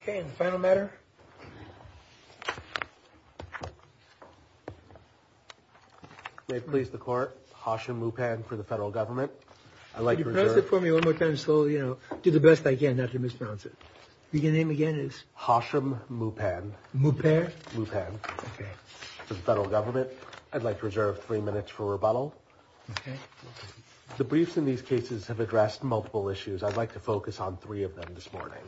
Okay, and the final matter. May it please the court, Hashim Mupan for the federal government. I'd like to reserve... Can you pronounce it for me one more time slowly, you know? Do the best I can not to mispronounce it. Your name again is? Hashim Mupan. Mupan? Mupan. Okay. For the federal government. I'd like to reserve three minutes for rebuttal. Okay. The briefs in these cases have addressed multiple issues. I'd like to focus on three of them this morning.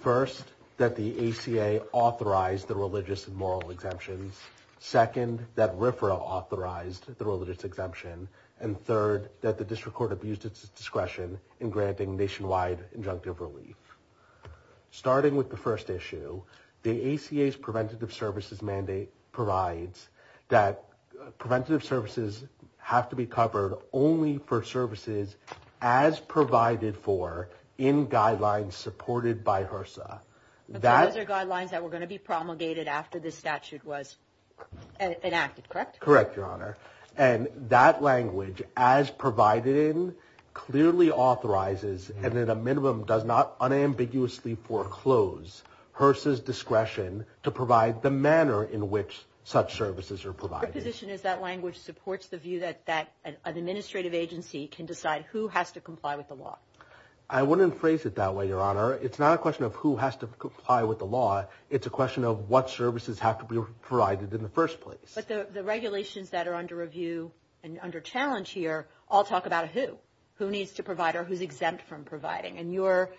First, that the ACA authorized the religious and moral exemptions. Second, that RFRA authorized the religious exemption. And third, that the district court abused its discretion in granting nationwide injunctive relief. Starting with the first issue. The ACA's preventative services mandate provides that preventative services have to be covered only for services as provided for in guidelines supported by HRSA. Those are guidelines that were going to be promulgated after this statute was enacted, correct? Correct, Your Honor. And that language, as provided in, clearly authorizes, and at a minimum does not unambiguously foreclose, HRSA's discretion to provide the manner in which such services are provided. Your position is that language supports the view that an administrative agency can decide who has to comply with the law. I wouldn't phrase it that way, Your Honor. It's not a question of who has to comply with the law. It's a question of what services have to be provided in the first place. But the regulations that are under review and under challenge here all talk about who. Who needs to provide or who's exempt from providing. And your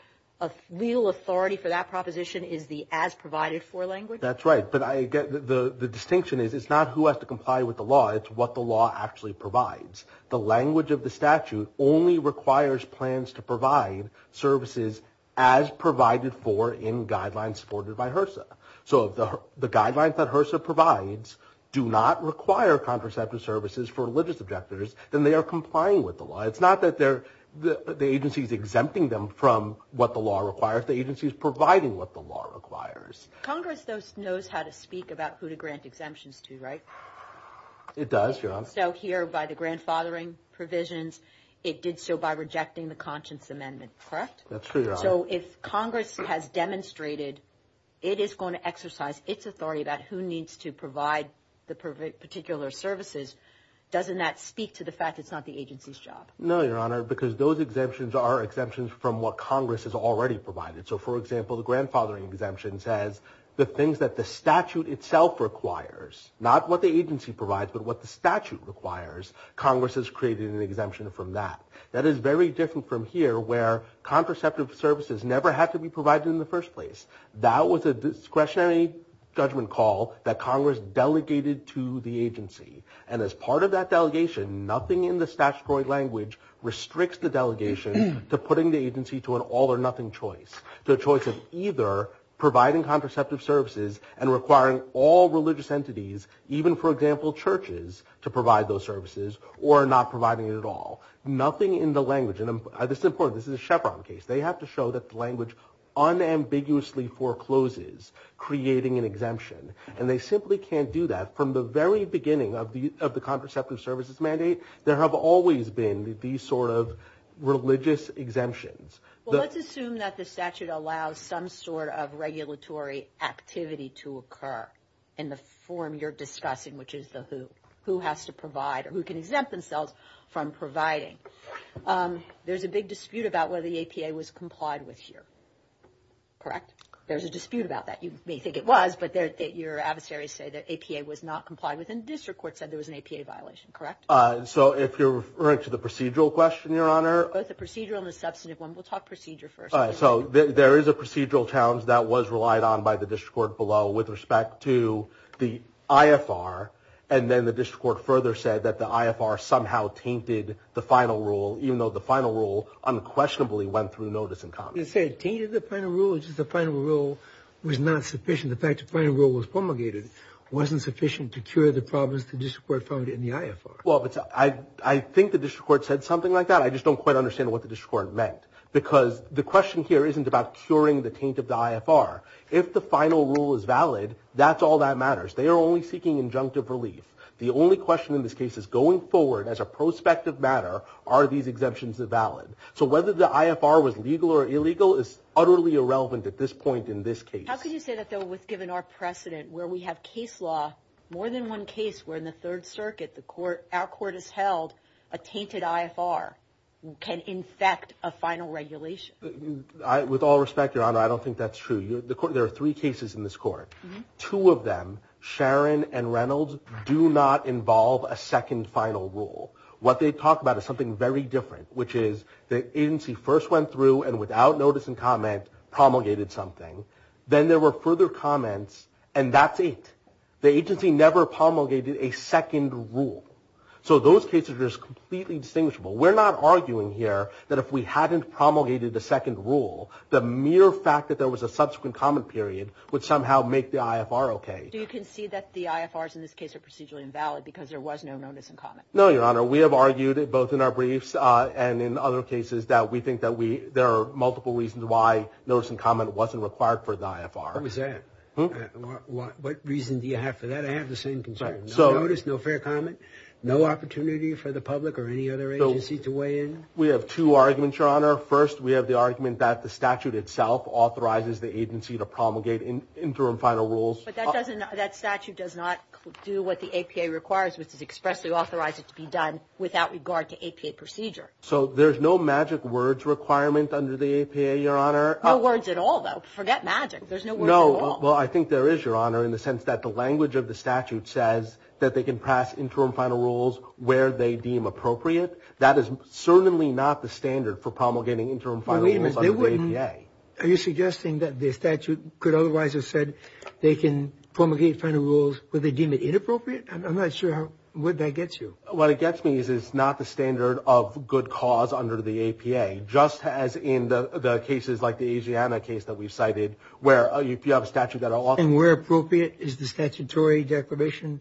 real authority for that proposition is the as provided for language? That's right. But the distinction is it's not who has to comply with the law. It's what the law actually provides. The language of the statute only requires plans to provide services as provided for in guidelines supported by HRSA. So if the guidelines that HRSA provides do not require contraceptive services for religious objectors, then they are complying with the law. It's not that the agency is exempting them from what the law requires. The agency is providing what the law requires. Congress knows how to speak about who to grant exemptions to, right? It does, Your Honor. It works out here by the grandfathering provisions. It did so by rejecting the Conscience Amendment, correct? That's true, Your Honor. So if Congress has demonstrated it is going to exercise its authority about who needs to provide the particular services, doesn't that speak to the fact it's not the agency's job? No, Your Honor, because those exemptions are exemptions from what Congress has already provided. So, for example, the grandfathering exemption says the things that the statute itself requires, not what the agency provides but what the statute requires, Congress has created an exemption from that. That is very different from here where contraceptive services never had to be provided in the first place. That was a discretionary judgment call that Congress delegated to the agency. And as part of that delegation, nothing in the statutory language restricts the delegation to putting the agency to an all-or-nothing choice, the choice of either providing contraceptive services and requiring all religious entities, even, for example, churches, to provide those services or not providing it at all. Nothing in the language, and this is important. This is a Chevron case. They have to show that the language unambiguously forecloses creating an exemption, and they simply can't do that. From the very beginning of the contraceptive services mandate, there have always been these sort of religious exemptions. Well, let's assume that the statute allows some sort of regulatory activity to occur in the form you're discussing, which is who has to provide or who can exempt themselves from providing. There's a big dispute about whether the APA was complied with here, correct? There's a dispute about that. You may think it was, but your adversaries say that APA was not complied with, and the district court said there was an APA violation, correct? So if you're referring to the procedural question, Your Honor? The procedural and the substantive one. We'll talk procedure first. All right. So there is a procedural challenge that was relied on by the district court below with respect to the IFR, and then the district court further said that the IFR somehow tainted the final rule, even though the final rule unquestionably went through notice and comment. You said it tainted the final rule. The final rule was not sufficient. The fact the final rule was promulgated wasn't sufficient to cure the problems the district court found in the IFR. Well, I think the district court said something like that. I just don't quite understand what the district court meant, because the question here isn't about curing the taint of the IFR. If the final rule is valid, that's all that matters. They are only seeking injunctive relief. The only question in this case is going forward as a prospective matter, are these exemptions valid? So whether the IFR was legal or illegal is utterly irrelevant at this point in this case. How can you say that that was given our precedent where we have case law, more than one case where in the Third Circuit our court has held a tainted IFR can infect a final regulation? With all respect, Your Honor, I don't think that's true. There are three cases in this court. Two of them, Sharon and Reynolds, do not involve a second final rule. What they talk about is something very different, which is the agency first went through and without notice and comment promulgated something. Then there were further comments, and that's it. The agency never promulgated a second rule. So those cases are just completely distinguishable. We're not arguing here that if we hadn't promulgated the second rule, the mere fact that there was a subsequent comment period would somehow make the IFR okay. Do you concede that the IFRs in this case are procedurally invalid because there was no notice and comment? No, Your Honor. We have argued both in our briefs and in other cases that we think that there are multiple reasons why notice and comment wasn't required for the IFR. What was that? What reason do you have for that? I have the same concern. No notice, no fair comment, no opportunity for the public or any other agency to weigh in? We have two arguments, Your Honor. First, we have the argument that the statute itself authorizes the agency to promulgate interim final rules. But that statute does not do what the APA requires, which is expressly authorize it to be done without regard to APA procedure. So there's no magic words requirement under the APA, Your Honor? No words at all, though. Forget magic. There's no words at all. Well, I think there is, Your Honor, in the sense that the language of the statute says that they can pass interim final rules where they deem appropriate. That is certainly not the standard for promulgating interim final rules under the APA. Are you suggesting that the statute could otherwise have said they can promulgate final rules where they deem it inappropriate? I'm not sure where that gets you. What it gets me is it's not the standard of good cause under the APA, just as in the cases like the Asiana case that we cited where you have a statute that authorizes it. And where appropriate is the statutory deprivation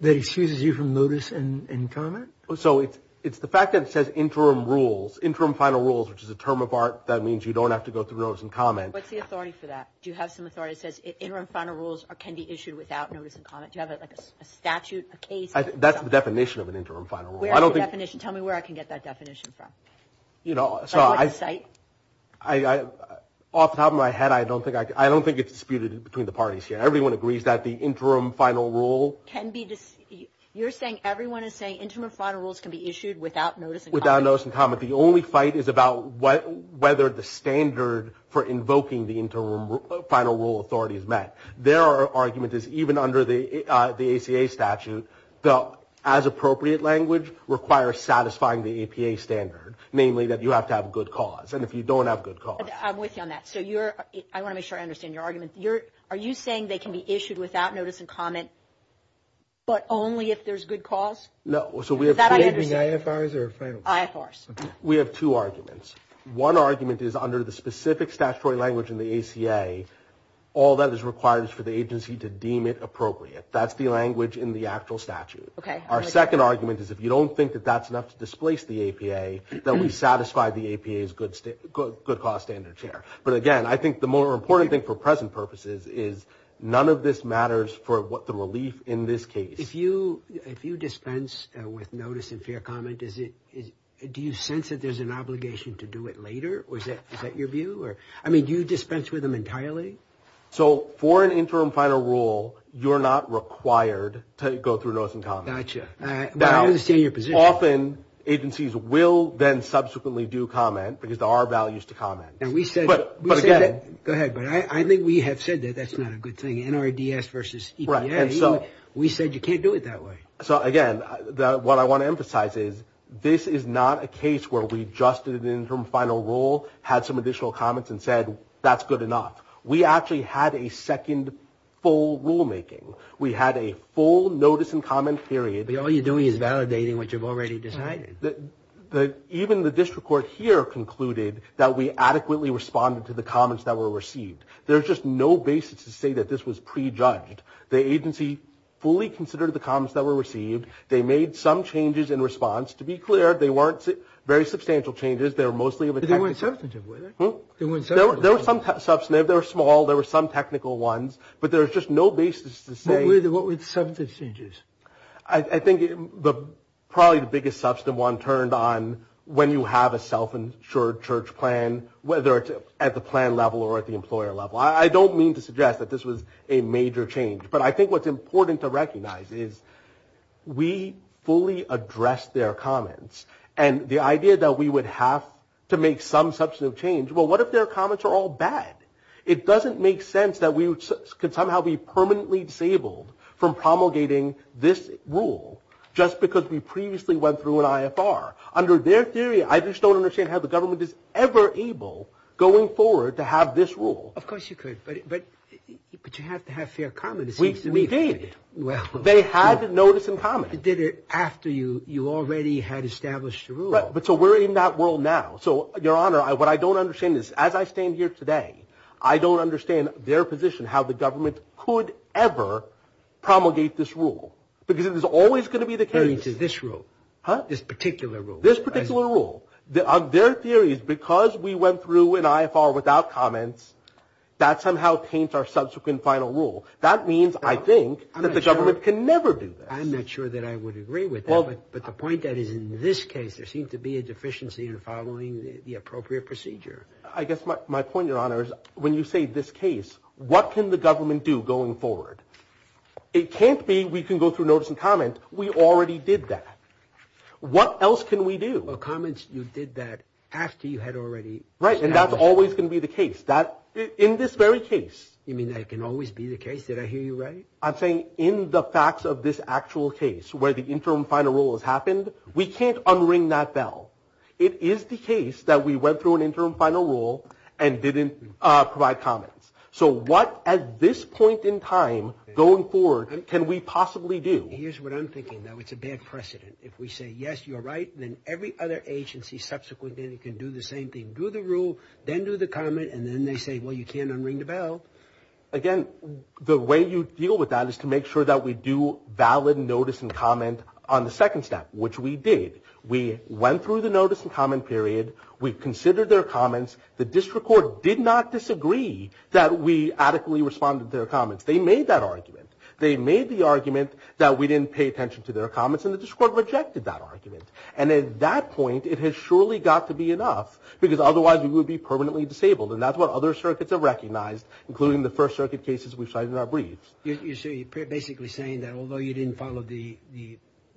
that excuses you from notice and comment? So it's the fact that it says interim rules, interim final rules, which is a term of art that means you don't have to go through notice and comment. What's the authority for that? Do you have some authority that says interim final rules can be issued without notice and comment? Do you have a statute, a case? That's the definition of an interim final rule. Where is the definition? You know, off the top of my head, I don't think it's disputed between the parties here. Everyone agrees that the interim final rule. You're saying everyone is saying interim final rules can be issued without notice and comment? Without notice and comment. The only fight is about whether the standard for invoking the interim final rule authority is met. There are arguments that even under the ACA statute, the as appropriate language requires satisfying the APA standard, namely that you have to have a good cause. And if you don't have a good cause. I'm with you on that. So I want to make sure I understand your argument. Are you saying they can be issued without notice and comment, but only if there's good cause? No. So we have two arguments. One argument is under the specific statutory language in the ACA, all that is required is for the agency to deem it appropriate. That's the language in the actual statute. Okay. Our second argument is if you don't think that that's enough to displace the APA, then we satisfy the APA's good cause standard here. But again, I think the more important thing for present purposes is none of this matters for the relief in this case. If you dispense with notice and fair comment, do you sense that there's an obligation to do it later? Is that your view? I mean, do you dispense with them entirely? So for an interim final rule, you're not required to go through notice and comment. Gotcha. I understand your position. Often agencies will then subsequently do comment because there are values to comment. But again – Go ahead. But I think we have said that that's not a good thing, NRDS versus EPA. We said you can't do it that way. So, again, what I want to emphasize is this is not a case where we just did an interim final rule, had some additional comments and said that's good enough. We actually had a second full rulemaking. We had a full notice and comment theory. But all you're doing is validating what you've already decided. Right. Even the district court here concluded that we adequately responded to the comments that were received. There's just no basis to say that this was prejudged. The agency fully considered the comments that were received. They made some changes in response. To be clear, they weren't very substantial changes. They were mostly – They weren't substantive, were they? There were some substantive. They were small. There were some technical ones. But there was just no basis to say – But really, what were the substantive changes? I think probably the biggest substantive one turned on when you have a self-insured church plan, whether it's at the plan level or at the employer level. I don't mean to suggest that this was a major change. But I think what's important to recognize is we fully addressed their comments. And the idea that we would have to make some substantive change – Well, what if their comments are all bad? It doesn't make sense that we could somehow be permanently disabled from promulgating this rule just because we previously went through an IFR. Under their theory, I just don't understand how the government is ever able, going forward, to have this rule. Of course you could. But you have to have fair comment. We did. They had a notice and comment. But you did it after you already had established the rule. But so we're in that world now. So, Your Honor, what I don't understand is, as I stand here today, I don't understand their position how the government could ever promulgate this rule. Because it is always going to be the case – This rule. Huh? This particular rule. This particular rule. Their theory is because we went through an IFR without comments, that somehow paints our subsequent final rule. That means, I think, that the government can never do that. I'm not sure that I would agree with that. But the point that is in this case, there seems to be a deficiency in following the appropriate procedure. I guess my point, Your Honor, is when you say this case, what can the government do going forward? It can't be we can go through notice and comment. We already did that. What else can we do? Well, comments, you did that after you had already established – Right, and that's always going to be the case. In this very case. You mean that can always be the case? Did I hear you right? I'm saying in the facts of this actual case where the interim final rule has happened, we can't unring that bell. It is the case that we went through an interim final rule and didn't provide comments. So what, at this point in time, going forward, can we possibly do? Here's what I'm thinking. Now, it's a bad precedent. If we say, yes, you're right, then every other agency subsequently can do the same thing. Do the rule, then do the comment, and then they say, well, you can't unring the bell. Again, the way you deal with that is to make sure that we do valid notice and comment on the second step, which we did. We went through the notice and comment period. We considered their comments. The district court did not disagree that we adequately responded to their comments. They made that argument. They made the argument that we didn't pay attention to their comments, and the district court rejected that argument. And at that point, it has surely got to be enough because otherwise we would be permanently disabled, and that's what other circuits have recognized, including the First Circuit cases we cited in our briefs. You're basically saying that although you didn't follow the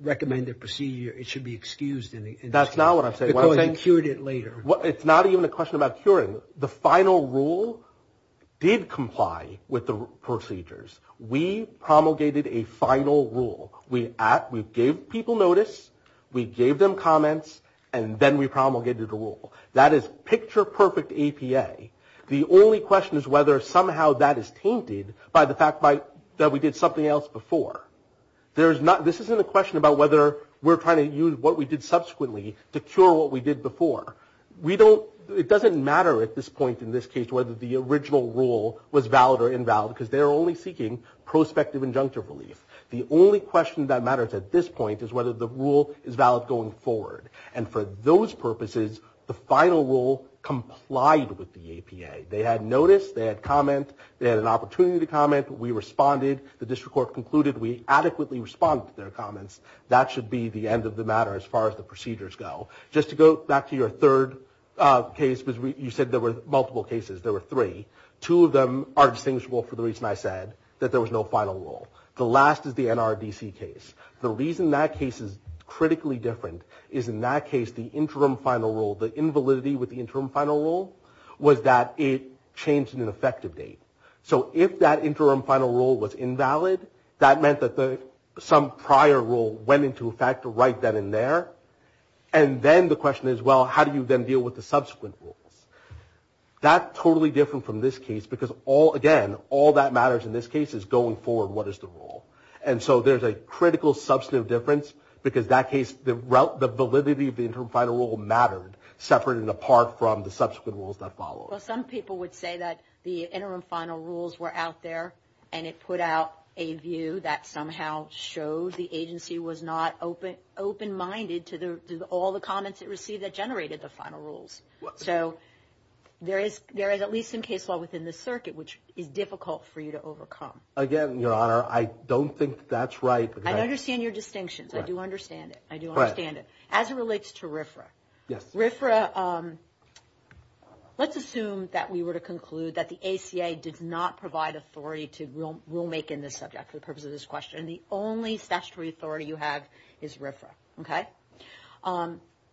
recommended procedure, it should be excused. That's not what I'm saying. Because you cured it later. It's not even a question about curing. The final rule did comply with the procedures. We promulgated a final rule. We gave people notice. We gave them comments, and then we promulgated a rule. That is picture-perfect APA. The only question is whether somehow that is tainted by the fact that we did something else before. This isn't a question about whether we're trying to use what we did subsequently to cure what we did before. It doesn't matter at this point in this case whether the original rule was valid or invalid because they're only seeking prospective injunctive relief. The only question that matters at this point is whether the rule is valid going forward, and for those purposes, the final rule complied with the APA. They had notice. They had comments. They had an opportunity to comment. We responded. The district court concluded we adequately responded to their comments. That should be the end of the matter as far as the procedures go. Just to go back to your third case, because you said there were multiple cases. There were three. Two of them are distinguishable for the reason I said, that there was no final rule. The last is the NRDC case. The reason that case is critically different is in that case the interim final rule, the invalidity with the interim final rule was that it changed in an effective date. So if that interim final rule was invalid, that meant that some prior rule went into effect right then and there, and then the question is, well, how do you then deal with the subsequent rules? That's totally different from this case because, again, all that matters in this case is going forward, what is the rule? And so there's a critical substantive difference because that case, the validity of the interim final rule mattered separate and apart from the subsequent rules that followed. Some people would say that the interim final rules were out there and it put out a view that somehow shows the agency was not open-minded to all the comments it received that generated the final rules. So there is at least some case law within this circuit which is difficult for you to overcome. Again, I don't think that's right. I understand your distinction. I do understand it. I do understand it. As it relates to RFRA. Yes. RFRA, let's assume that we were to conclude that the ACA does not provide authority to rule-making in this subject for the purpose of this question. The only statutory authority you have is RFRA. Okay?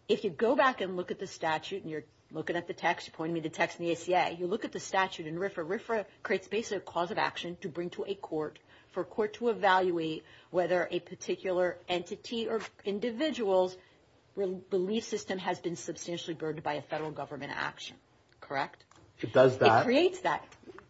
If you go back and look at the statute and you're looking at the text, pointing to the text in the ACA, you look at the statute in RFRA, RFRA creates basically a cause of action to bring to a court for a court to evaluate whether a particular entity or individual's belief system has been substantially burdened by a federal government action. Correct? It does that. It creates that.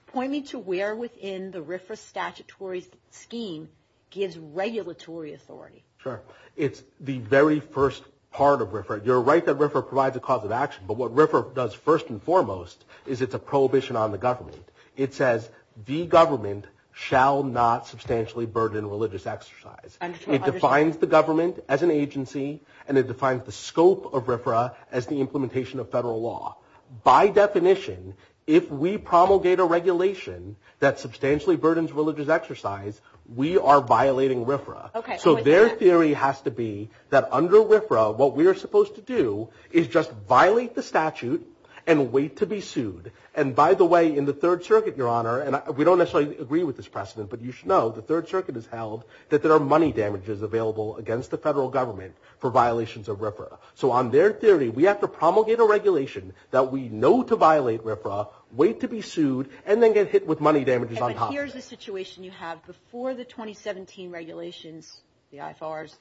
Pointing to where within the RFRA statutory scheme gives regulatory authority. Sure. It's the very first part of RFRA. You're right that RFRA provides a cause of action, but what RFRA does first and foremost is it's a prohibition on the government. It says the government shall not substantially burden religious exercise. I understand. It defines the government as an agency and it defines the scope of RFRA as the implementation of federal law. By definition, if we promulgate a regulation that substantially burdens religious exercise, we are violating RFRA. Okay. So their theory has to be that under RFRA, what we are supposed to do is just violate the statute and wait to be sued. And, by the way, in the Third Circuit, Your Honor, and we don't necessarily agree with this precedent, but you should know the Third Circuit has held that there are money damages available against the federal government for violations of RFRA. So on their theory, we have to promulgate a regulation that we know to violate RFRA, wait to be sued, and then get hit with money damages on top of it. Here's the situation you have. Before the 2017 regulations, the IFRs,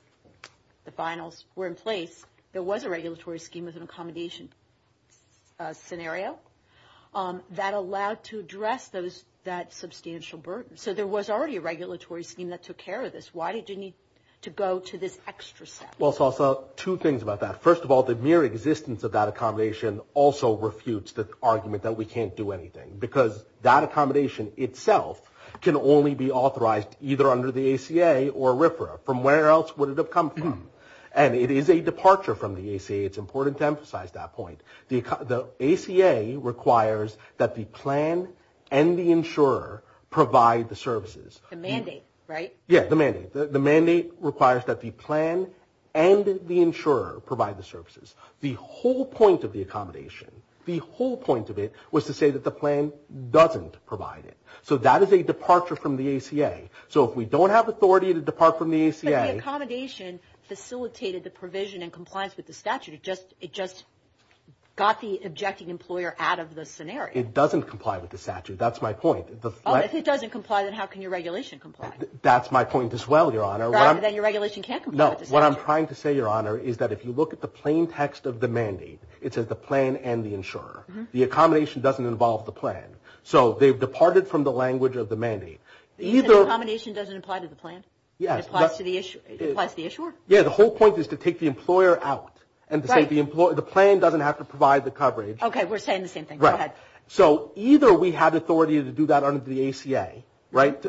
the finals, were in place, there was a regulatory scheme as an accommodation scenario that allowed to address that substantial burden. So there was already a regulatory scheme that took care of this. Why did you need to go to this extra step? Well, Salsa, two things about that. Because that accommodation itself can only be authorized either under the ACA or RFRA. From where else would it have come? And it is a departure from the ACA. It's important to emphasize that point. The ACA requires that the plan and the insurer provide the services. The mandate, right? Yes, the mandate. The mandate requires that the plan and the insurer provide the services. The whole point of the accommodation, the whole point of it was to say that the plan doesn't provide it. So that is a departure from the ACA. So if we don't have authority to depart from the ACA. But the accommodation facilitated the provision and compliance with the statute. It just got the objecting employer out of the scenario. It doesn't comply with the statute. That's my point. Oh, if it doesn't comply, then how can your regulation comply? That's my point as well, Your Honor. Right, but then your regulation can't comply with the statute. No, what I'm trying to say, Your Honor, is that if you look at the plain text of the mandate, it says the plan and the insurer. The accommodation doesn't involve the plan. So they've departed from the language of the mandate. The accommodation doesn't apply to the plan? It applies to the issuer? Yes, the whole point is to take the employer out. The plan doesn't have to provide the coverage. Okay, we're saying the same thing. Go ahead. So either we have authority to do that under the ACA, right?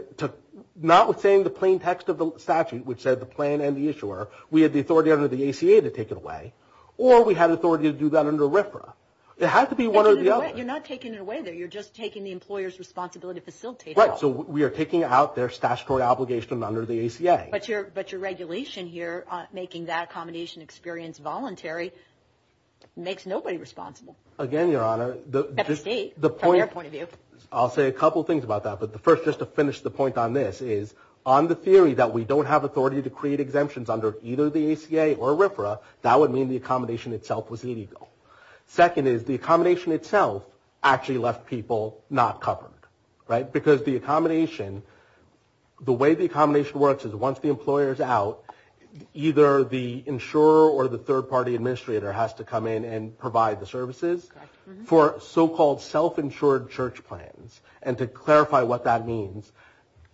Not with saying the plain text of the statute, which said the plan and the issuer. We have the authority under the ACA to take it away. Or we have authority to do that under RFRA. It has to be one or the other. You're not taking it away there. You're just taking the employer's responsibility to facilitate it. Right, so we are taking out their statutory obligation under the ACA. But your regulation here, making that accommodation experience voluntary, makes nobody responsible. Again, Your Honor, the point of view, I'll say a couple things about that. The first, just to finish the point on this, is on the theory that we don't have authority to create exemptions under either the ACA or RFRA, that would mean the accommodation itself was illegal. Second is the accommodation itself actually left people not covered, right? Because the accommodation, the way the accommodation works is once the employer is out, either the insurer or the third-party administrator has to come in and provide the services for so-called self-insured church plans and to clarify what that means,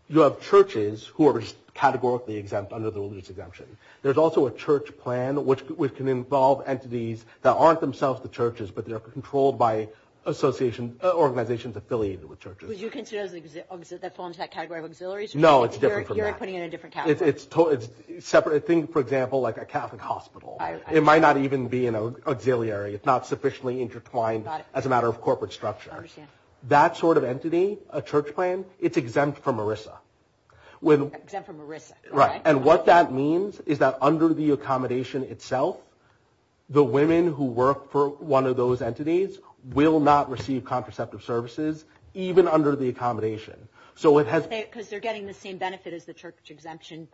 you have churches who are categorically exempt under the religious exemption. There's also a church plan which can involve entities that aren't themselves the churches but they're controlled by organizations affiliated with churches. Would you consider that forms that category of auxiliaries? No, it's different from that. You're putting it in a different category. It's separate. Think, for example, like a Catholic hospital. It might not even be an auxiliary. It's not sufficiently intertwined as a matter of corporate structure. I understand. That sort of entity, a church plan, it's exempt from ERISA. Exempt from ERISA. Right, and what that means is that under the accommodation itself, the women who work for one of those entities will not receive contraceptive services even under the accommodation. Because they're getting the same benefit as the church exemption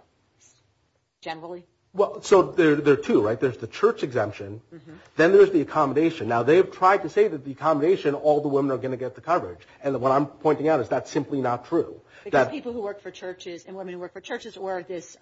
generally? Well, so there are two, right? There's the church exemption. Then there's the accommodation. Now, they've tried to say that the accommodation, all the women are going to get the coverage. And what I'm pointing out is that's simply not true. Because people who work for churches and women who work for churches are of this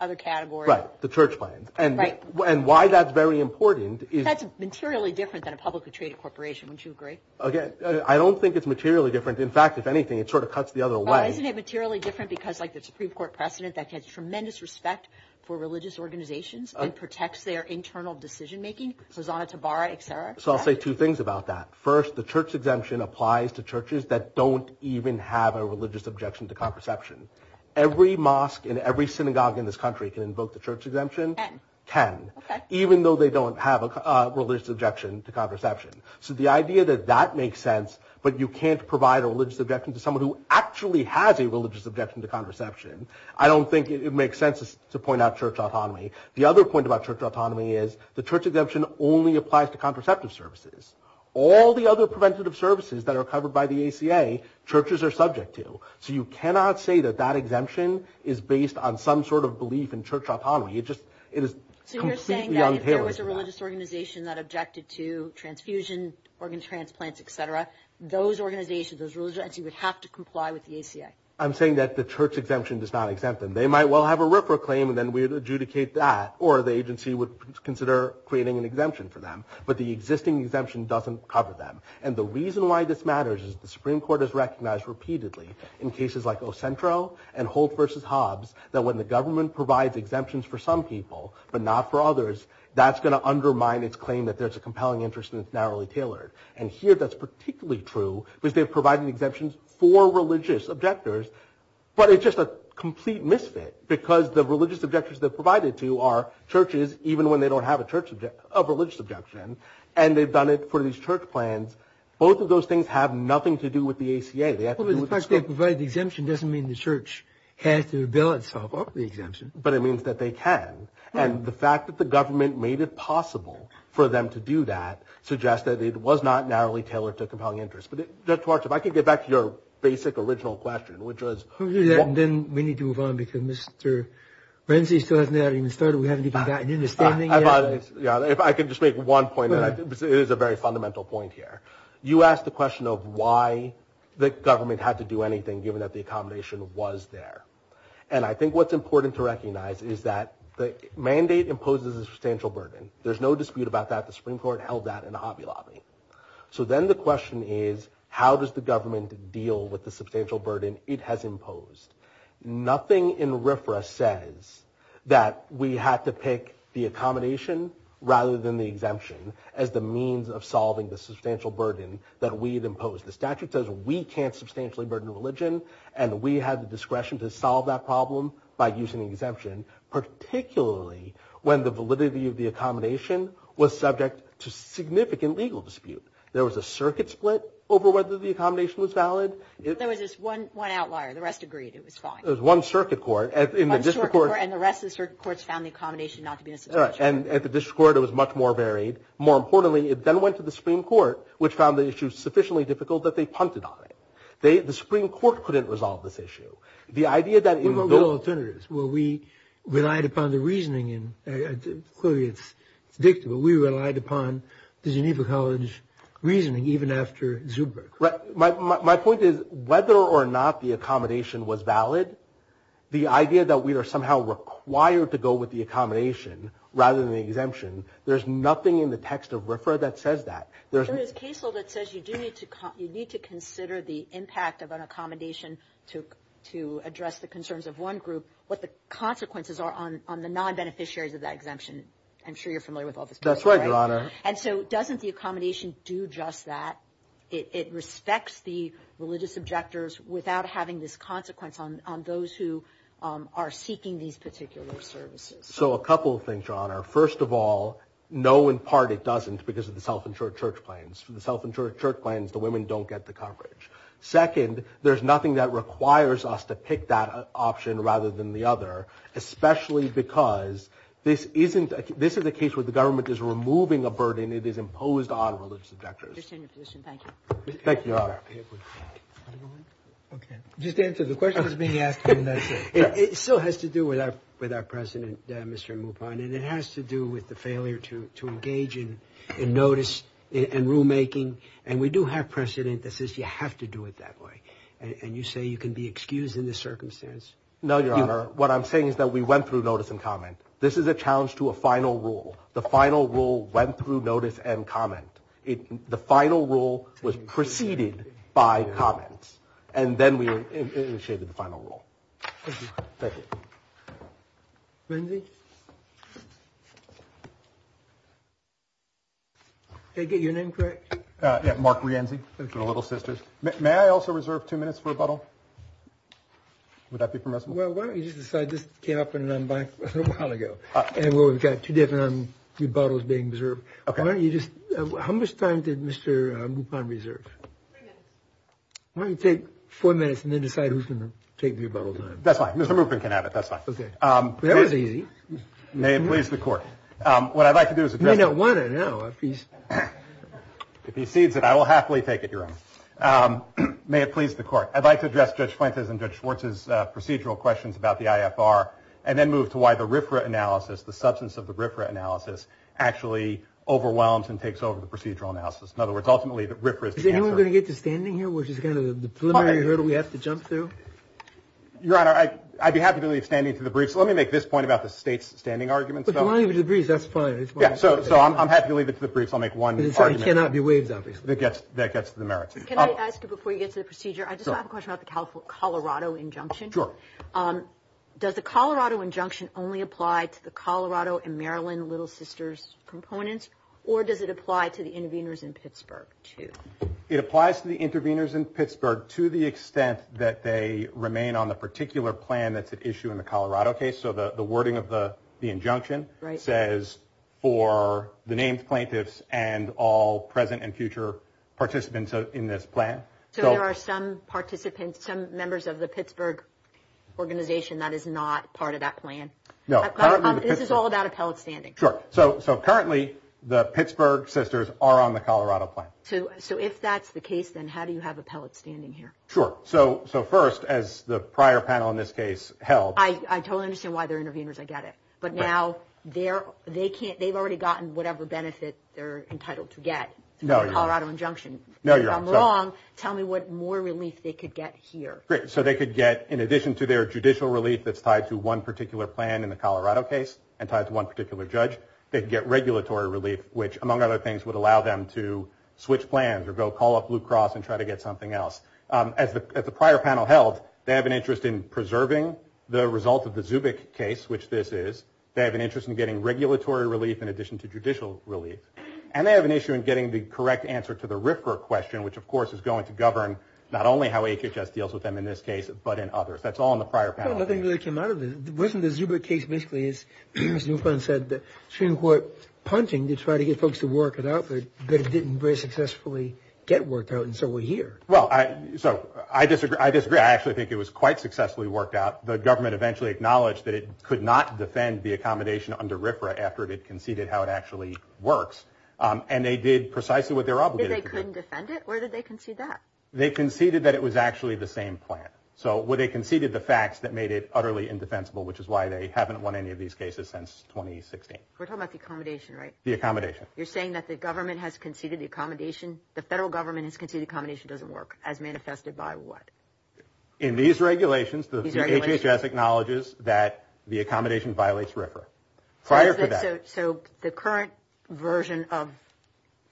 other category. Right, the church plan. Right. And why that's very important is – That's materially different than a publicly traded corporation. Wouldn't you agree? Okay, I don't think it's materially different. In fact, if anything, it sort of cuts the other way. Isn't it materially different because like the Supreme Court precedent that has tremendous respect for religious organizations and protects their internal decision-making? Hizat-e Tabara, et cetera. So I'll say two things about that. First, the church exemption applies to churches that don't even have a religious objection to contraception. Every mosque and every synagogue in this country can invoke the church exemption. Ten. Ten. Okay. Even though they don't have a religious objection to contraception. So the idea that that makes sense but you can't provide a religious objection to someone who actually has a religious objection to contraception, I don't think it makes sense to point out church autonomy. The other point about church autonomy is the church exemption only applies to contraceptive services. All the other preventative services that are covered by the ACA, churches are subject to. So you cannot say that that exemption is based on some sort of belief in church autonomy. It is completely unhearable. So you're saying that if there was a religious organization that objected to transfusion, organ transplants, et cetera, those organizations, those religious entities would have to comply with the ACA. I'm saying that the church exemption does not exempt them. They might well have a RIPRA claim and then we would adjudicate that or the agency would consider creating an exemption for them. But the existing exemption doesn't cover them. And the reason why this matters is the Supreme Court has recognized repeatedly in cases like El Centro and Holt versus Hobbs that when the government provides exemptions for some people but not for others, that's going to undermine its claim that there's a compelling interest and it's narrowly tailored. And here that's particularly true because they're providing exemptions for religious objectors. But it's just a complete misfit because the religious objectors they're provided to are churches even when they don't have a religious objection and they've done it for these church plans. Both of those things have nothing to do with the ACA. The fact that they provide the exemption doesn't mean the church has to bill itself up the exemption. But it means that they can. And the fact that the government made it possible for them to do that suggests that it was not narrowly tailored to compelling interest. If I could get back to your basic original question, which was Then we need to move on because Mr. Renzi still hasn't even started. We haven't even gotten an understanding yet. If I could just make one point. It is a very fundamental point here. You asked the question of why the government had to do anything given that the accommodation was there. And I think what's important to recognize is that the mandate imposes a substantial burden. There's no dispute about that. The Supreme Court held that in Hobby Lobby. So then the question is how does the government deal with the substantial burden it has imposed? Nothing in RFRA says that we have to pick the accommodation rather than the exemption as the means of solving the substantial burden that we've imposed. The statute says we can't substantially burden religion and we have the discretion to solve that problem by using the exemption, particularly when the validity of the accommodation was subject to There was a circuit split over whether the accommodation was valid. There was just one outlier. The rest agreed. It was fine. There was one circuit court. And the rest of the circuit courts found the accommodation not to be necessary. And at the district court it was much more varied. More importantly, it then went to the Supreme Court, which found the issue sufficiently difficult that they pumped it on it. The Supreme Court couldn't resolve this issue. There were real alternatives where we relied upon the reasoning. Clearly it's dictable. We relied upon the Geneva College reasoning even after Zuber. My point is whether or not the accommodation was valid, the idea that we are somehow required to go with the accommodation rather than the exemption, there's nothing in the text of RFRA that says that. In the case law that says you do need to consider the impact of an accommodation to address the concerns of one group, what the consequences are on the non-beneficiaries of that exemption. I'm sure you're familiar with all this. That's right, Your Honor. And so doesn't the accommodation do just that? It respects the religious objectors without having this consequence on those who are seeking these particular services. So a couple of things, Your Honor. First of all, no in part it doesn't because of the self-insured church plans. The self-insured church plans, the women don't get the coverage. Second, there's nothing that requires us to pick that option rather than the other, especially because this is a case where the government is removing a burden that is imposed on religious objectors. Thank you. Thank you, Your Honor. Just to answer the question that's being asked, it still has to do with our president, Mr. Mupon, and it has to do with the failure to engage in notice and rulemaking. And we do have precedent that says you have to do it that way. And you say you can be excused in this circumstance. No, Your Honor. What I'm saying is that we went through notice and comment. This is a challenge to a final rule. The final rule went through notice and comment. The final rule was preceded by comment, and then we initiated the final rule. Thank you. Thank you. Renzi? Did I get your name correct? Yeah, Mark Renzi. We're little sisters. May I also reserve two minutes for a bottle? Would that be permissible? Well, why don't you just decide this came up a while ago, and we've got two bottles being reserved. Okay. How much time did Mr. Mupon reserve? Why don't you take four minutes and then decide who's going to take your bottle? That's fine. Mr. Mupon can have it. That's fine. Okay. That was easy. May it please the Court. What I'd like to do is admit it. You may not want it now. If he sees it, I will happily take it, Your Honor. May it please the Court. I'd like to address Judge Flinters and Judge Schwartz's procedural questions about the IFR and then move to why the RIFRA analysis, the substance of the RIFRA analysis, actually overwhelms and takes over the procedural analysis. In other words, ultimately, the RIFRA is the answer. Is anyone going to get to standing here, which is kind of the preliminary hurdle we have to jump through? Your Honor, I'd be happy to leave standing to the briefs. Let me make this point about the state's standing argument. As long as you agree, that's fine. So I'm happy to leave it to the briefs. I'll make one argument. It cannot be waived, obviously. That gets to the merits. Can I ask you, before you get to the procedure, I just have a question about the Colorado injunction. Sure. Does the Colorado injunction only apply to the Colorado and Maryland Little Sisters components, or does it apply to the interveners in Pittsburgh, too? It applies to the interveners in Pittsburgh to the extent that they remain on the particular plan that's at issue in the Colorado case. So the wording of the injunction says for the named plaintiffs and all present and future participants in this plan. So there are some participants, some members of the Pittsburgh organization that is not part of that plan. No. This is all about appellate standing. Sure. So currently the Pittsburgh sisters are on the Colorado plan. So if that's the case, then how do you have appellate standing here? Sure. So first, as the prior panel in this case held. I totally understand why they're interveners. I get it. But now they've already gotten whatever benefits they're entitled to get in the Colorado injunction. No, you're right. If I'm wrong, tell me what more relief they could get here. Great. So they could get, in addition to their judicial relief that's tied to one particular plan in the Colorado case and tied to one particular judge, they could get regulatory relief, which, among other things, would allow them to switch plans or go call up Blue Cross and try to get something else. As the prior panel held, they have an interest in preserving the result of the Zubik case, which this is. They have an interest in getting regulatory relief in addition to judicial relief. And they have an issue in getting the correct answer to the RIFR question, which, of course, is going to govern not only how HHS deals with them in this case but in others. That's all in the prior panel. The thing that came out of this, wasn't the Zubik case basically, as Newfound said, the Supreme Court punting to try to get folks to work it out, but it didn't very successfully get worked out, and so we're here. Well, so I disagree. I actually think it was quite successfully worked out. The government eventually acknowledged that it could not defend the accommodation under RIFRA after it had conceded how it actually works. And they did precisely what they were obligated to do. They couldn't defend it? Where did they concede that? They conceded that it was actually the same plan. So they conceded the facts that made it utterly indefensible, which is why they haven't won any of these cases since 2016. We're talking about the accommodation, right? The accommodation. You're saying that the government has conceded the accommodation? The federal government has conceded the accommodation doesn't work, as manifested by what? In these regulations, the HHS acknowledges that the accommodation violates RIFRA. Prior to that. So the current version of,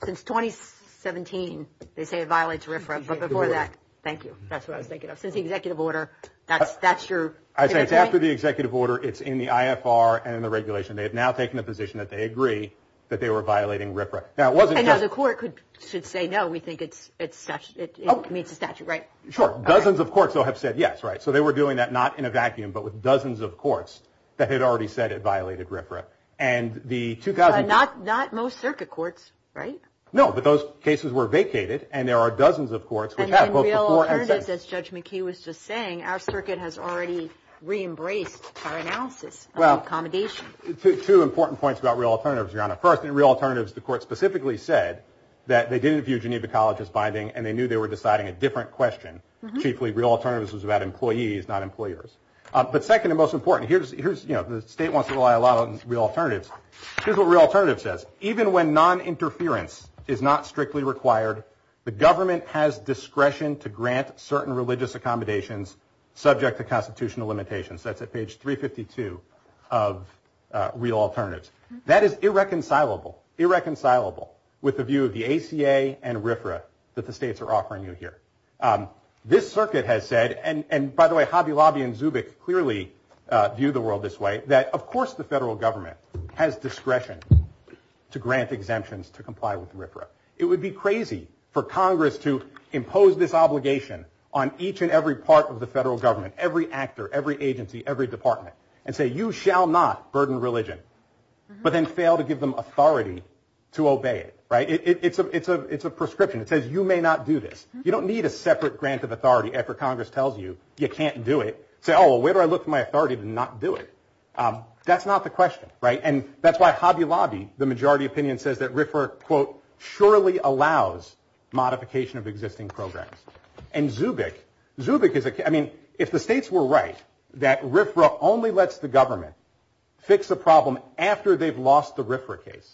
since 2017, they say it violates RIFRA, but before that, thank you. That's what I'm thinking of. Since the executive order, that's your? I think after the executive order, it's in the IFR and in the regulation. They have now taken a position that they agree that they were violating RIFRA. And now the court should say, no, we think it meets the statute, right? Sure. Dozens of courts, though, have said yes, right? So they were doing that not in a vacuum, but with dozens of courts that had already said it violated RIFRA. Not most circuit courts, right? No, but those cases were vacated, and there are dozens of courts. And in Real Alternatives, as Judge McKee was just saying, our circuit has already re-embraced our analysis of accommodation. Two important points about Real Alternatives, Your Honor. First, in Real Alternatives, the court specifically said that they didn't view Geneva College as binding, and they knew they were deciding a different question. Chiefly, Real Alternatives was about employees, not employers. But second and most important, the state wants to rely a lot on Real Alternatives. Here's what Real Alternatives says. Even when noninterference is not strictly required, the government has discretion to grant certain religious accommodations subject to constitutional limitations. That's at page 352 of Real Alternatives. That is irreconcilable, irreconcilable with the view of the ACA and RIFRA that the states are offering you here. This circuit has said, and by the way, Hobby Lobby and Zubik clearly view the world this way, that of course the federal government has discretion to grant exemptions to comply with RIFRA. It would be crazy for Congress to impose this obligation on each and every part of the federal government, every actor, every agency, every department, and say you shall not burden religion, but then fail to give them authority to obey it. It's a prescription. It says you may not do this. You don't need a separate grant of authority after Congress tells you you can't do it. Say, oh, well, where do I look for my authority to not do it? That's not the question, right? And that's why Hobby Lobby, the majority opinion, says that RIFRA, quote, surely allows modification of existing programs. And Zubik, I mean, if the states were right that RIFRA only lets the government fix the problem after they've lost the RIFRA case,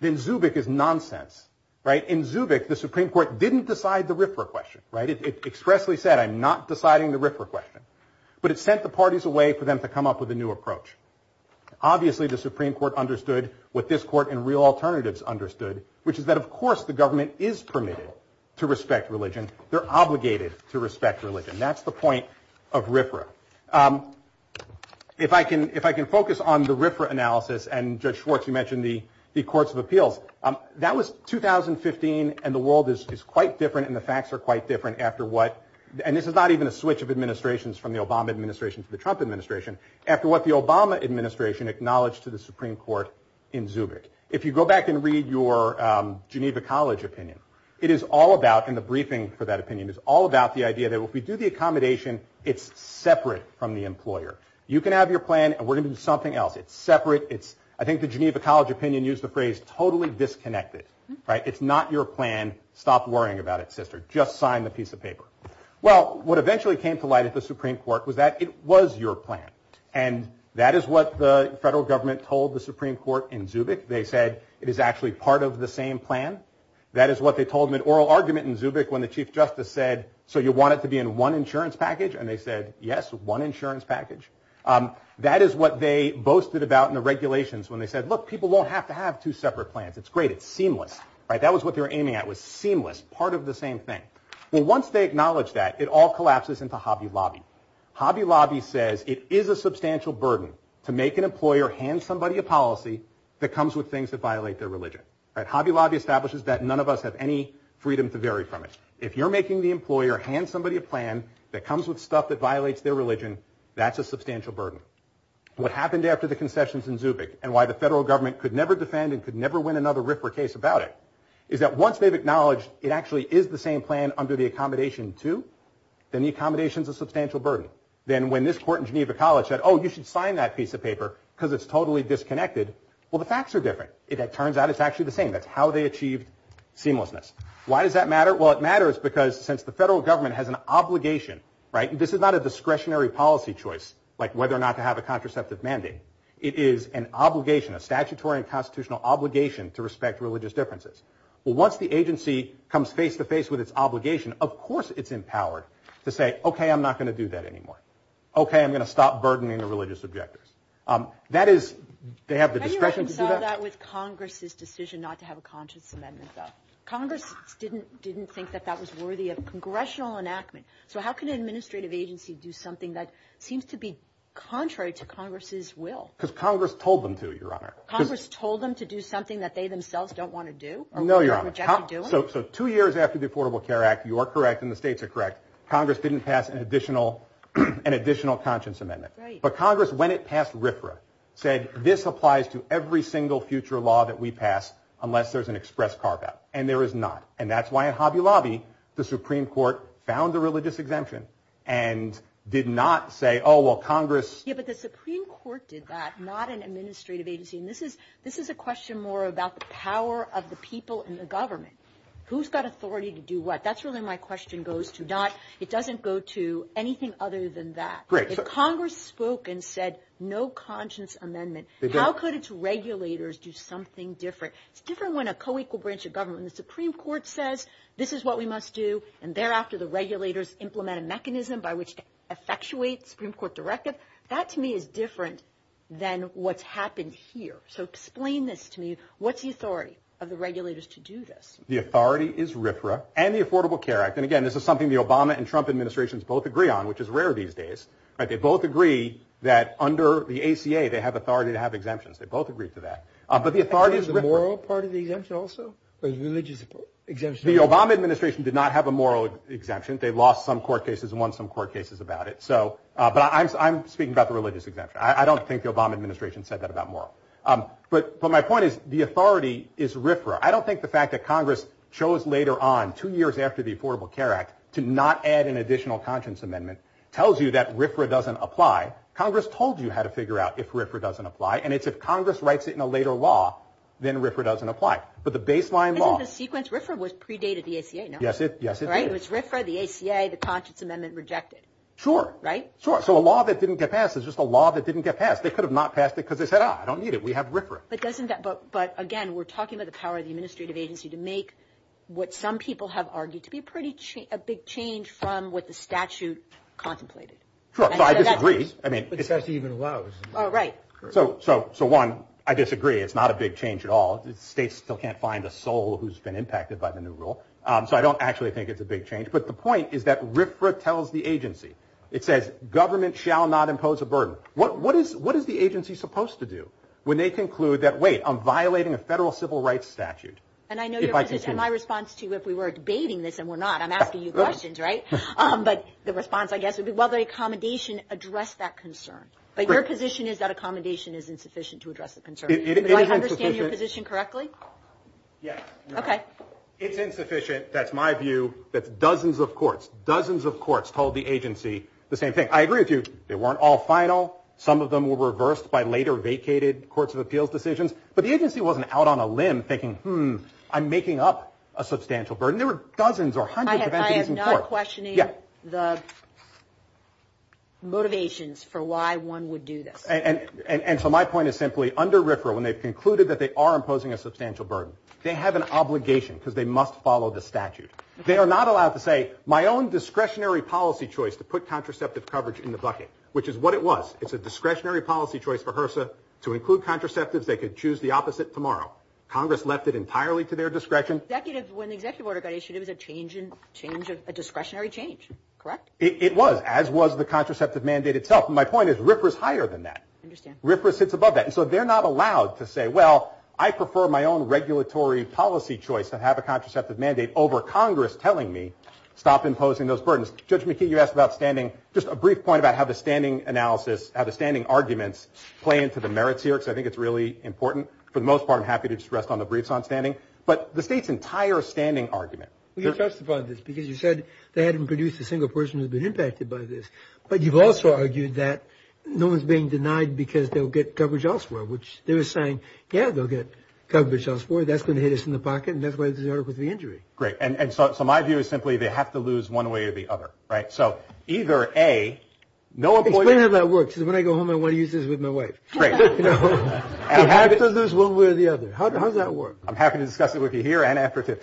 then Zubik is nonsense, right? In Zubik, the Supreme Court didn't decide the RIFRA question, right? It expressly said I'm not deciding the RIFRA question, but it sent the parties away for them to come up with a new approach. Obviously the Supreme Court understood what this court and real alternatives understood, which is that, of course, the government is permitted to respect religion. They're obligated to respect religion. That's the point of RIFRA. If I can focus on the RIFRA analysis, and, Judge Schwartz, you mentioned the courts of appeals, that was 2015, and the world is quite different and the facts are quite different after what, and this is not even a switch of administrations from the Obama administration to the Trump administration, after what the Obama administration acknowledged to the Supreme Court in Zubik. If you go back and read your Geneva College opinion, it is all about, and the briefing for that opinion, is all about the idea that if we do the accommodation, it's separate from the employer. You can have your plan, and we're going to do something else. It's separate. I think the Geneva College opinion used the phrase totally disconnected. It's not your plan. Stop worrying about it, sister. Just sign the piece of paper. Well, what eventually came to light at the Supreme Court was that it was your plan, and that is what the federal government told the Supreme Court in Zubik. They said it is actually part of the same plan. That is what they told in an oral argument in Zubik when the Chief Justice said, so you want it to be in one insurance package? And they said, yes, one insurance package. That is what they boasted about in the regulations when they said, look, people won't have to have two separate plans. It's great. It's seamless. That was what they were aiming at was seamless, part of the same thing. Well, once they acknowledged that, it all collapses into Hobby Lobby. Hobby Lobby says it is a substantial burden to make an employer hand somebody a policy that comes with things that violate their religion. Hobby Lobby establishes that none of us have any freedom to vary from it. If you're making the employer hand somebody a plan that comes with stuff that violates their religion, that's a substantial burden. What happened after the concessions in Zubik, and why the federal government could never defend and could never win another RIFRA case about it, is that once they've acknowledged it actually is the same plan under the accommodation 2, then the accommodation is a substantial burden. Then when this court in Geneva College said, oh, you should sign that piece of paper because it's totally disconnected, well, the facts are different. It turns out it's actually the same. That's how they achieved seamlessness. Why does that matter? Well, it matters because since the federal government has an obligation, right, and this is not a discretionary policy choice like whether or not to have a contraceptive mandate. It is an obligation, a statutory and constitutional obligation to respect religious differences. Well, once the agency comes face-to-face with its obligation, of course it's empowered to say, okay, I'm not going to do that anymore. Okay, I'm going to stop burdening the religious objectives. That is, they have the discretion to do that. How do you reconcile that with Congress's decision not to have a conscience amendment, though? Congress didn't think that that was worthy of congressional enactment. So how can an administrative agency do something that seems to be contrary to Congress's will? Because Congress told them to, Your Honor. Congress told them to do something that they themselves don't want to do? No, Your Honor. So two years after the Affordable Care Act, you are correct and the states are correct, Congress didn't pass an additional conscience amendment. Right. But Congress, when it passed RFRA, said this applies to every single future law that we pass unless there's an express carve-out, and there is not. And that's why in Hobby Lobby the Supreme Court found the religious exemption and did not say, oh, well, Congress... Yeah, but the Supreme Court did that, not an administrative agency. And this is a question more about the power of the people in the government. Who's got authority to do what? That's really my question goes to. It doesn't go to anything other than that. If Congress spoke and said no conscience amendment, how could its regulators do something different? It's different when a co-equal branch of government, the Supreme Court says, this is what we must do, and thereafter the regulators implement a mechanism by which it effectuates the Supreme Court directive. That to me is different than what's happened here. So explain this to me. What's the authority of the regulators to do this? The authority is RFRA and the Affordable Care Act. And, again, this is something the Obama and Trump administrations both agree on, which is rare these days. They both agree that under the ACA they have authority to have exemptions. They both agree to that. But the authority is RFRA. Is there a moral part of the exemption also, a religious exemption? The Obama administration did not have a moral exemption. They lost some court cases and won some court cases about it. But I'm speaking about the religious exemption. I don't think the Obama administration said that about moral. But my point is the authority is RFRA. I don't think the fact that Congress chose later on, two years after the Affordable Care Act, to not add an additional conscience amendment tells you that RFRA doesn't apply. Congress told you how to figure out if RFRA doesn't apply, and it's if Congress writes it in a later law, then RFRA doesn't apply. But the baseline law – Isn't the sequence RFRA was predated the ACA, no? Yes, it is. Right? It was RFRA, the ACA, the conscience amendment rejected. Sure. Right? Sure. So a law that didn't get passed is just a law that didn't get passed. They could have not passed it because they said, ah, I don't need it. We have RFRA. But doesn't that – but, again, we're talking about the power of the administrative agency to make what some people have argued to be a pretty – a big change from what the statute contemplated. Sure. So I disagree. I mean – Sure. So one, I disagree. It's not a big change at all. States still can't find a soul who's been impacted by the new rule. So I don't actually think it's a big change. But the point is that RFRA tells the agency – it says government shall not impose a burden. What is the agency supposed to do when they conclude that, wait, I'm violating a federal civil rights statute? And I know your – If I can – My response to you, if we were debating this, and we're not, I'm asking you questions, right? But the response, I guess, would be, well, the accommodation addressed that concern. But your position is that accommodation is insufficient to address the concern. It is insufficient. Do I understand your position correctly? Yes. Okay. It's insufficient. That's my view. But dozens of courts, dozens of courts told the agency the same thing. I agree with you. They weren't all final. Some of them were reversed by later vacated courts of appeals decisions. But the agency wasn't out on a limb thinking, hmm, I'm making up a substantial burden. There were dozens or hundreds of agencies in court. I am not questioning the motivations for why one would do this. And so my point is simply, under RFRA, when they've concluded that they are imposing a substantial burden, they have an obligation because they must follow the statute. They are not allowed to say, my own discretionary policy choice to put contraceptive coverage in the bucket, which is what it was. It's a discretionary policy choice for HRSA to include contraceptives. They could choose the opposite tomorrow. Congress left it entirely to their discretion. When the executive order got issued, it was a discretionary change, correct? It was, as was the contraceptive mandate itself. And my point is RFRA is higher than that. RFRA sits above that. And so they're not allowed to say, well, I prefer my own regulatory policy choice and have a contraceptive mandate over Congress telling me stop imposing those burdens. Judge McKee, you asked about standing. Just a brief point about how the standing analysis, how the standing arguments play into the merits here, because I think it's really important. For the most part, I'm happy to stress on the briefs on standing. But the state's entire standing argument. Well, you testified on this because you said they hadn't produced a single person who had been impacted by this. But you've also argued that no one's being denied because they'll get coverage elsewhere, which they were saying, yeah, they'll get coverage elsewhere. That's going to hit us in the pocket, and that's what they did with the injury. Great. And so my view is simply they have to lose one way or the other, right? So either, A, no employer – Explain how that works, because when I go home, I want to use this with my wife. Right. They have to lose one way or the other. How does that work? I'm happy to discuss it with you here and afterwards.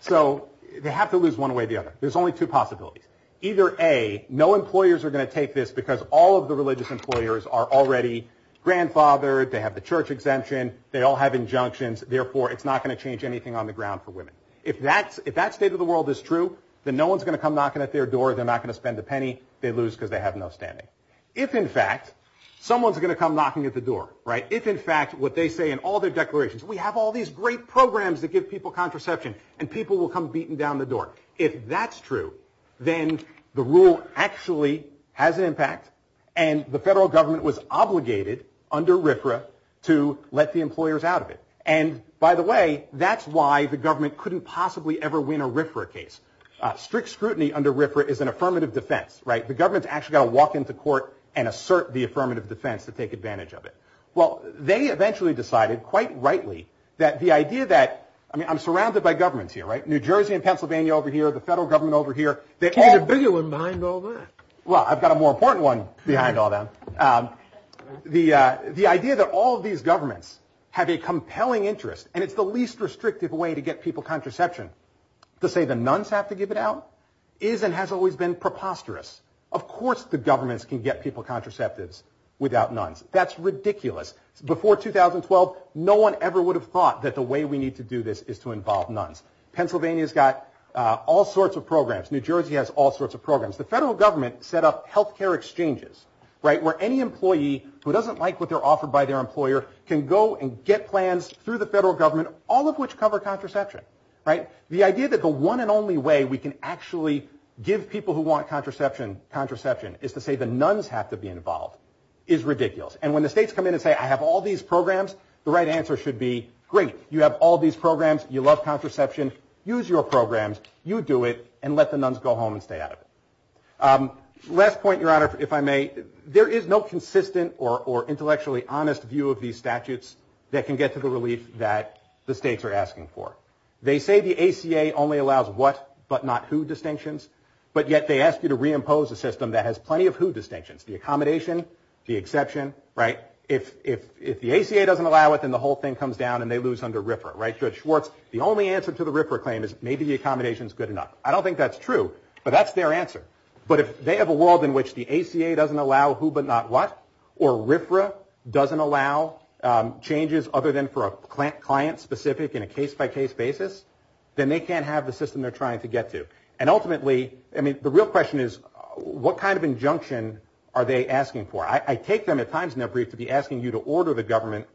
So they have to lose one way or the other. There's only two possibilities. Either, A, no employers are going to take this because all of the religious employers are already grandfathered. They have the church exemption. They all have injunctions. Therefore, it's not going to change anything on the ground for women. If that state of the world is true, then no one's going to come knocking at their door. They're not going to spend a penny. They lose because they have no standing. If, in fact, someone's going to come knocking at the door, right, they have all these great programs that give people contraception, and people will come beating down the door. If that's true, then the rule actually has an impact, and the federal government was obligated under RFRA to let the employers out of it. And, by the way, that's why the government couldn't possibly ever win a RFRA case. Strict scrutiny under RFRA is an affirmative defense, right? The government's actually got to walk into court and assert the affirmative defense to take advantage of it. Well, they eventually decided, quite rightly, that the idea that, I mean, I'm surrounded by governments here, right? New Jersey and Pennsylvania over here, the federal government over here. You're the bigger one behind all this. Well, I've got a more important one behind all that. The idea that all of these governments have a compelling interest, and it's the least restrictive way to get people contraception to say the nuns have to give it out is and has always been preposterous. Of course the governments can get people contraceptives without nuns. That's ridiculous. Before 2012, no one ever would have thought that the way we need to do this is to involve nuns. Pennsylvania's got all sorts of programs. New Jersey has all sorts of programs. The federal government set up health care exchanges, right, where any employee who doesn't like what they're offered by their employer can go and get plans through the federal government, all of which cover contraception, right? The idea that the one and only way we can actually give people who want contraception contraception is to say the nuns have to be involved is ridiculous. And when the states come in and say, I have all these programs, the right answer should be, great, you have all these programs, you love contraception, use your programs, you do it, and let the nuns go home and stay out of it. Last point, Your Honor, if I may, there is no consistent or intellectually honest view of these statutes that can get to the relief that the states are asking for. They say the ACA only allows what but not who distinctions, but yet they ask you to reimpose a system that has plenty of who distinctions, the accommodation, the exception, right? If the ACA doesn't allow it, then the whole thing comes down and they lose under RFRA, right? Judge Schwartz, the only answer to the RFRA claim is maybe the accommodation is good enough. I don't think that's true, but that's their answer. But if they have a world in which the ACA doesn't allow who but not what, or RFRA doesn't allow changes other than for a client-specific and a case-by-case basis, then they can't have the system they're trying to get to. And ultimately, I mean, the real question is what kind of injunction are they asking for? I take them at times in their brief to be asking you to order the government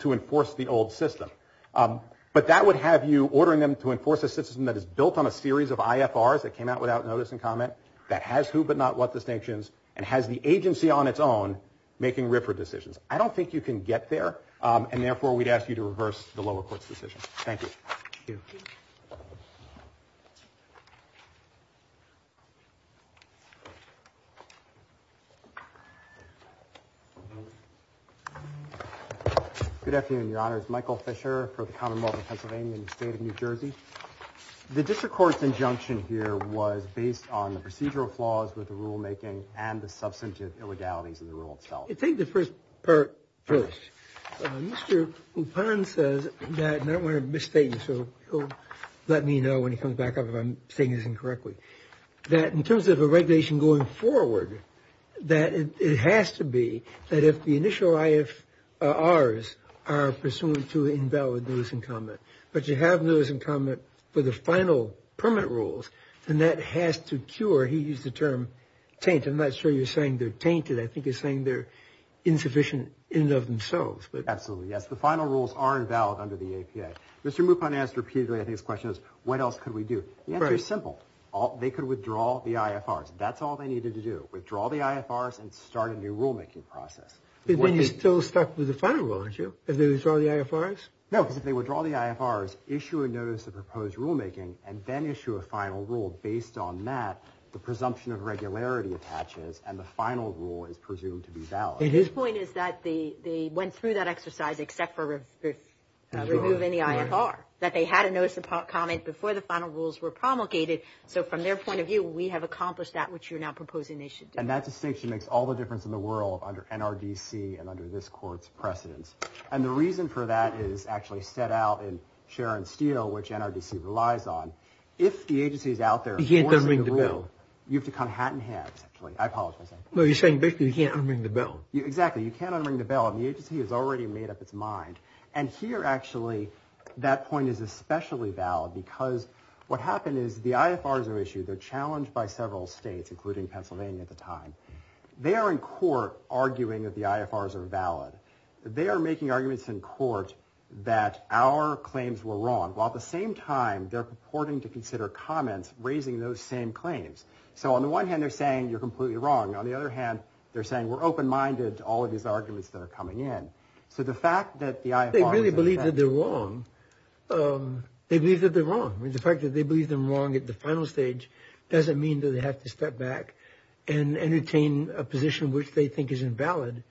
to enforce the old system. But that would have you ordering them to enforce a system that is built on a series of IFRs that came out without notice and comment that has who but not what distinctions and has the agency on its own making RFRA decisions. I don't think you can get there, and therefore we'd ask you to reverse the lower court's decision. Thank you. Thank you. Good afternoon, Your Honors. Michael Fisher for the Commonwealth of Pennsylvania in the state of New Jersey. The district court's injunction here was based on the procedural flaws of the rulemaking and the substance of illegality to the rule itself. Take the first part first. Mr. Lupon says that, and I don't want to misstate him, so he'll let me know when he comes back up if I'm stating anything correctly, that in terms of a regulation going forward, that it has to be that if the initial IFRs are pursuant to invalid notice and comment, but you have notice and comment for the final permit rules, then that has to cure, he used the term, taint. I'm not sure you're saying they're tainted. I think you're saying they're insufficient in and of themselves. Absolutely, yes. The final rules are invalid under the APA. Mr. Lupon asked repeatedly, I think, his question is, what else could we do? The answer is simple. They could withdraw the IFRs. That's all they needed to do, withdraw the IFRs and start a new rulemaking process. But then you're still stuck with the final rule, aren't you? If they withdraw the IFRs? No, if they withdraw the IFRs, issue a notice of proposed rulemaking, and then issue a final rule based on that, the presumption of regularity attaches, and the final rule is presumed to be valid. His point is that they went through that exercise except for review of any IFR, that they had a notice of comment before the final rules were promulgated. So from their point of view, we have accomplished that, which you're now proposing they should do. And that distinction makes all the difference in the world under NRDC and under this Court's precedence. And the reason for that is actually set out in Cher and Steele, which NRDC relies on. If the agency is out there forcing the rule, you have to come hat in hat, I apologize. No, you're saying basically you can't unring the bell. Exactly, you can't unring the bell, and the agency has already made up its mind. And here, actually, that point is especially valid because what happened is the IFRs are issued. They're challenged by several states, including Pennsylvania at the time. They are in court arguing that the IFRs are valid. They are making arguments in court that our claims were wrong, while at the same time they're purporting to consider comments raising those same claims. So on the one hand, they're saying you're completely wrong. On the other hand, they're saying we're open-minded to all of these arguments that are coming in. So the fact that the IFRs – They really believe that they're wrong. They believe that they're wrong. The fact that they believe they're wrong at the final stage doesn't mean that they have to step back and entertain a position which they think is invalid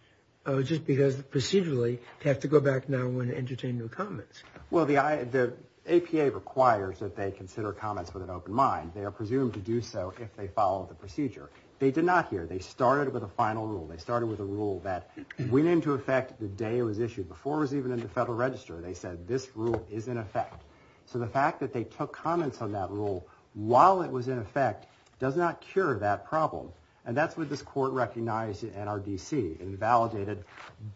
just because procedurally they have to go back now and entertain their comments. Well, the APA requires that they consider comments with an open mind. They are presumed to do so if they follow the procedure. They did not here. They started with a final rule. They started with a rule that went into effect the day it was issued. Before it was even in the Federal Register, they said this rule is in effect. So the fact that they took comments on that rule while it was in effect does not cure that problem. And that's what this court recognized in NRDC and validated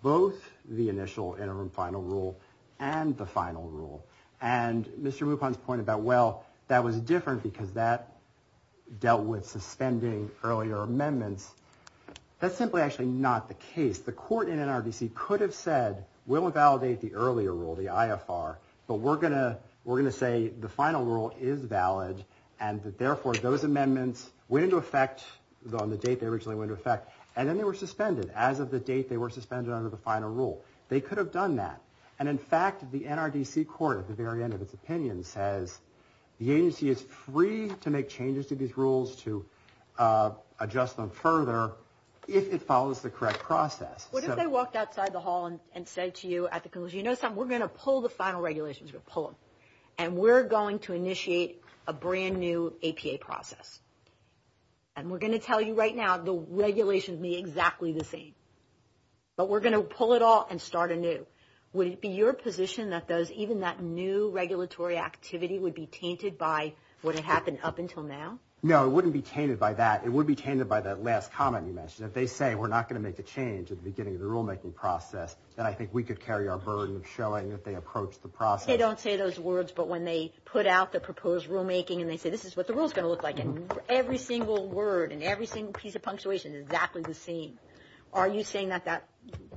both the initial interim final rule and the final rule. And Mr. Lupon's point about, well, that was different because that dealt with suspending earlier amendments, that's simply actually not the case. The court in NRDC could have said, we'll invalidate the earlier rule, the IFR, but we're going to say the final rule is valid and that, therefore, those amendments went into effect on the date they originally went into effect, and then they were suspended. As of the date, they were suspended under the final rule. They could have done that. And, in fact, the NRDC court, at the very end of its opinion, says the agency is free to make changes to these rules to adjust them further if it follows the correct process. What if they walked outside the hall and said to you at the conclusion, you know something? We're going to pull the final regulations. We're going to pull them. And we're going to initiate a brand-new APA process. And we're going to tell you right now the regulations may be exactly the same. But we're going to pull it off and start anew. Would it be your position that even that new regulatory activity would be tainted by what had happened up until now? No, it wouldn't be tainted by that. It would be tainted by that last comment you mentioned, that they say we're not going to make a change at the beginning of the rulemaking process, that I think we could carry our burden of showing that they approached the process. They don't say those words, but when they put out the proposed rulemaking and they say this is what the rule is going to look like, and every single word and every single piece of punctuation is exactly the same, are you saying that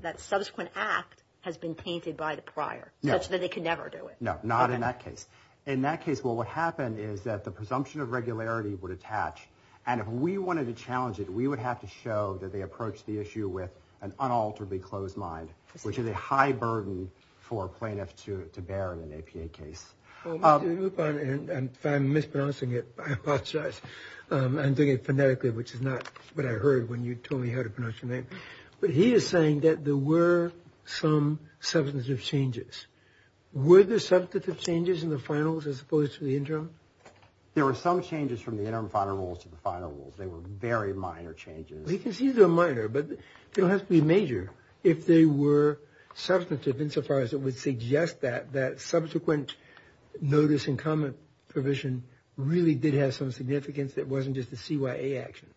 that subsequent act has been tainted by the prior, such that they could never do it? No, not in that case. In that case, well, what happened is that the presumption of regularity would attach. And if we wanted to challenge it, we would have to show that they approached the issue with an unalterably closed mind, which is a high burden for plaintiffs to bear in an APA case. If I'm mispronouncing it, I apologize. I'm doing it phonetically, which is not what I heard when you told me how to pronounce your name. But he is saying that there were some substantive changes. Were there substantive changes in the finals as opposed to the interim? There were some changes from the interim final rules to the final rules. They were very minor changes. Well, you can see they're minor, but it doesn't have to be major. If they were substantive insofar as it would suggest that, that subsequent notice and comment provision really did have some significance, it wasn't just a CYA action.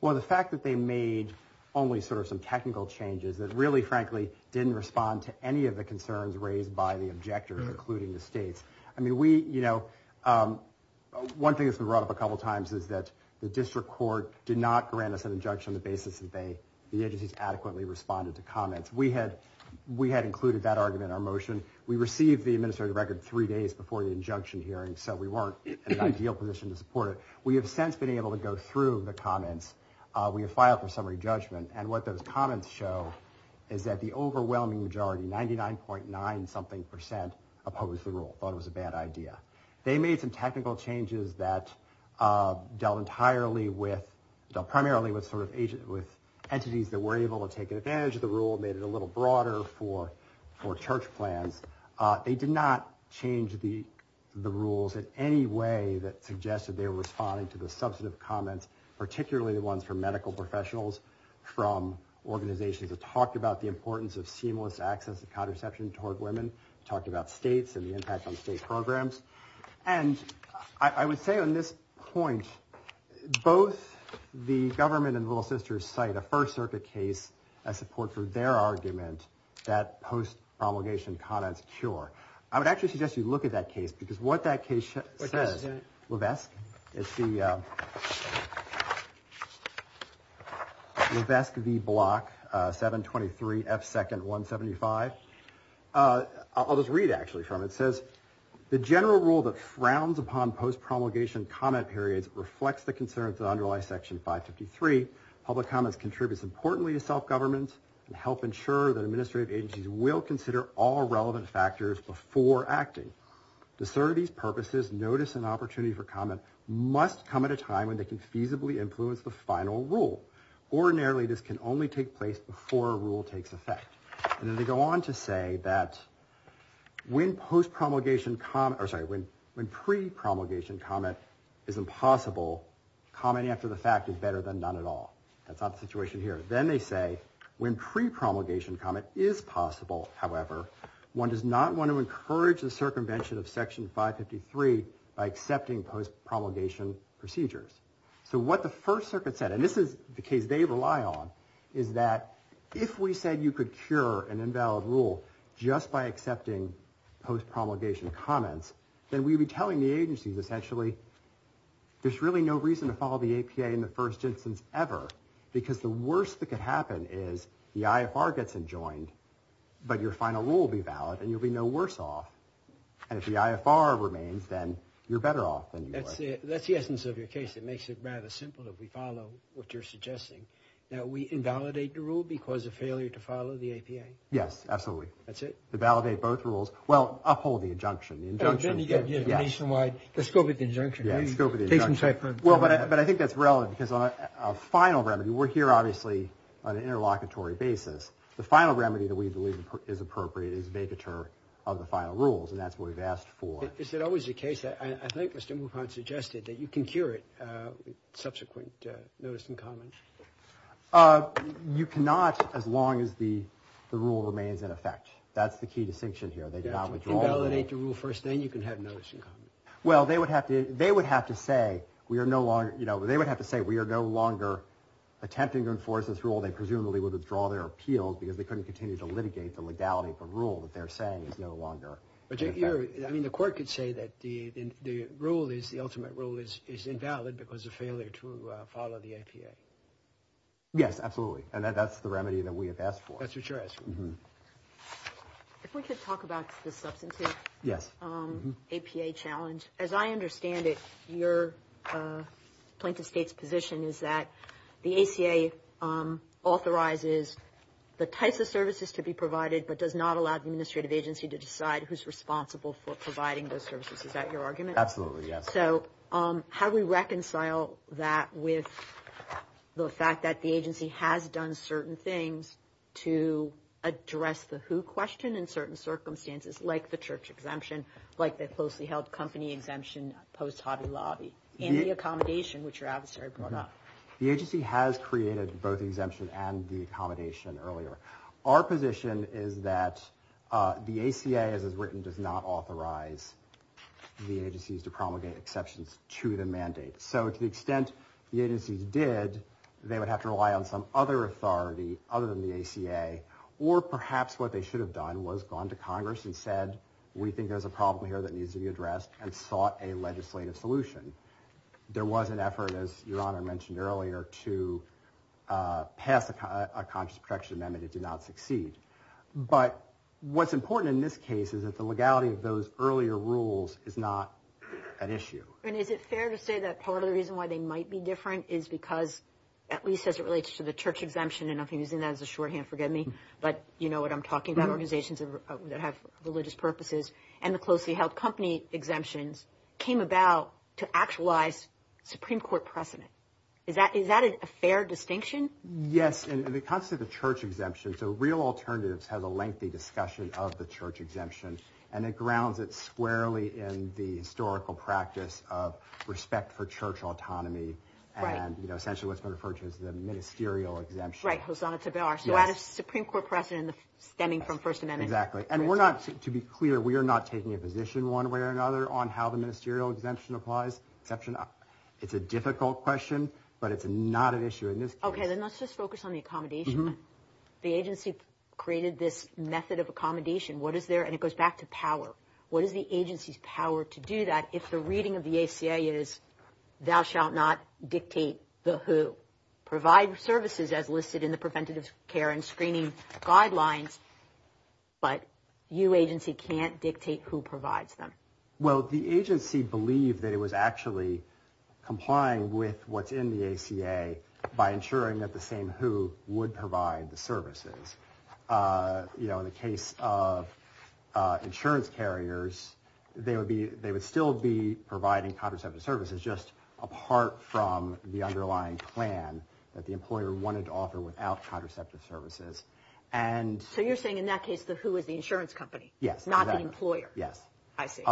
Well, the fact that they made only sort of some technical changes that really, frankly, didn't respond to any of the concerns raised by the objectors, including the states. I mean, we, you know, one thing that's been brought up a couple times is that the district court did not grant us an injunction on the basis that the agency adequately responded to comments. We had included that argument in our motion. We received the administrative record three days before the injunction hearing, so we weren't in an ideal position to support it. We have since been able to go through the comments. We have filed for summary judgment. And what those comments show is that the overwhelming majority, 99.9-something percent, opposed the rule, thought it was a bad idea. They made some technical changes that dealt entirely with, dealt primarily with entities that were able to take advantage of the rule, made it a little broader for church plans. They did not change the rules in any way that suggested they were responding to the substantive comments, particularly the ones from medical professionals, from organizations that talked about the importance of seamless access to contraception toward women, talked about states and the impact on state programs. And I would say on this point, both the government and Little Sisters cite a First Circuit case as support for their argument that post-propagation comments cure. I would actually suggest you look at that case because what that case says, Levesque, it's the Levesque v. Block, 723F2-175. I'll just read actually from it. It says, the general rule that frowns upon post-propagation comment periods reflects the concerns that underlie Section 553. Public comment contributes importantly to self-governance and helps ensure that administrative agencies will consider all relevant factors before acting. The service, purposes, notice, and opportunity for comment must come at a time when they can feasibly influence the final rule. Ordinarily, this can only take place before a rule takes effect. And then they go on to say that when pre-promulgation comment is impossible, commenting after the fact is better than none at all. That's not the situation here. Then they say, when pre-promulgation comment is possible, however, one does not want to encourage the circumvention of Section 553 by accepting post-promulgation procedures. So what the first circuit said, and this is the case they rely on, is that if we said you could cure an invalid rule just by accepting post-promulgation comments, then we would be telling the agencies essentially, there's really no reason to follow the APA in the first instance ever because the worst that can happen is the IFR gets adjoined, but your final rule will be valid, and you'll be no worse off. And if the IFR remains, then you're better off anyway. That's the essence of your case. It makes it rather simple if we follow what you're suggesting, that we invalidate the rule because of failure to follow the APA. Yes, absolutely. That's it. To validate both rules. Well, uphold the injunction. The injunction, yes. Nationwide. Let's go with the injunction. Yeah, let's go with the injunction. Well, but I think that's relevant because our final remedy, we're here obviously on an interlocutory basis. The final remedy that we believe is appropriate is to make a term of the final rules, and that's what we've asked for. Is there always a case, I think Mr. Mulcahyne suggested, that you can cure it, subsequent notice and comments? You cannot as long as the rule remains in effect. That's the key distinction here. They do not withdraw. If you validate the rule first, then you can have notice and comments. Well, they would have to say, we are no longer attempting to enforce this rule. They presumably would withdraw their appeal because they couldn't continue to litigate the legality of the rule that they're saying is no longer in effect. I mean, the court could say that the ultimate rule is invalid because of failure to follow the APA. Yes, absolutely. And that's the remedy that we have asked for. That's what you're asking for. If we could talk about the substantive APA challenge. As I understand it, your point of state's position is that the ACA authorizes the types of services to be provided but does not allow the administrative agency to decide who's responsible for providing those services. Is that your argument? Absolutely, yes. So how do we reconcile that with the fact that the agency has done certain things to address the who question in certain circumstances, like the church exemption, like the closely held company exemption post Hobby Lobby, and the accommodation, which you're out to serve. The agency has created both the exemption and the accommodation earlier. Our position is that the ACA, as is written, does not authorize the agencies to promulgate exceptions to the mandate. So to the extent the agencies did, they would have to rely on some other authority other than the ACA, or perhaps what they should have done was gone to Congress and said, we think there's a problem here that needs to be addressed, and sought a legislative solution. There was an effort, as your Honor mentioned earlier, to pass a contractual amendment. It did not succeed. But what's important in this case is that the legality of those earlier rules is not an issue. And is it fair to say that part of the reason why they might be different is because, at least as it relates to the church exemption, and I'm using that as a shorthand, forgive me, but you know what I'm talking about, organizations that have religious purposes, and the closely held company exemption came about to actualize Supreme Court precedent. Is that a fair distinction? Yes. In the context of the church exemption, the real alternatives have a lengthy discussion of the church exemption, and it grounds it squarely in the historical practice of respect for church autonomy and essentially what's referred to as the ministerial exemption. Right, Hosanna Tabar. So that is Supreme Court precedent stemming from First Amendment. Exactly. And we're not, to be clear, we are not taking a position one way or another on how the ministerial exemption applies. It's a difficult question, but it's not an issue in this case. Okay. Then let's just focus on the accommodation. The agency created this method of accommodation. What is there? And it goes back to power. What is the agency's power to do that? If the reading of the ACA is, thou shalt not dictate the who. Provide the services as listed in the preventative care and screening guidelines, but you agency can't dictate who provides them. Well, the agency believed that it was actually complying with what's in the ACA by ensuring that the same who would provide the services. In the case of insurance carriers, they would still be providing contraceptive services, just apart from the underlying plan that the employer wanted to offer without contraceptive services. So you're saying in that case the who is the insurance company, not the employer. Yes. I see.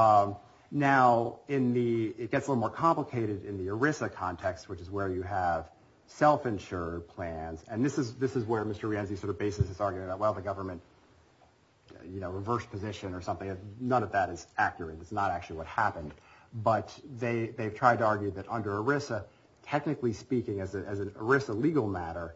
Now, it gets a little more complicated in the ERISA context, which is where you have self-insured plans, and this is where Mr. Reanzi sort of bases his argument that, well, the government reversed the mission or something. None of that is accurate. It's not actually what happened. But they tried to argue that under ERISA, technically speaking, as an ERISA legal matter,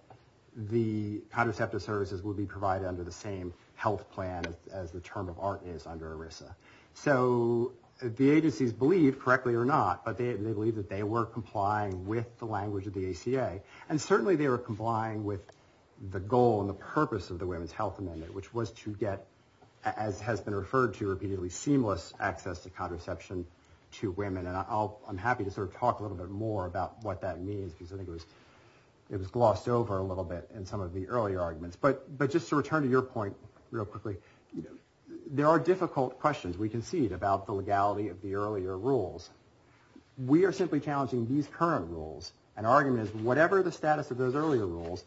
the contraceptive services would be provided under the same health plan as the term of art is under ERISA. So the agencies believed, correctly or not, but they believed that they were complying with the language of the ACA. And certainly they were complying with the goal and the purpose of the Women's Health Amendment, which was to get, as has been referred to repeatedly, seamless access to contraception to women. And I'm happy to sort of talk a little bit more about what that means, because I think it was glossed over a little bit in some of the earlier arguments. But just to return to your point real quickly, there are difficult questions we can see about the legality of the earlier rules. We are simply challenging these current rules and arguments. Whatever the status of those earlier rules,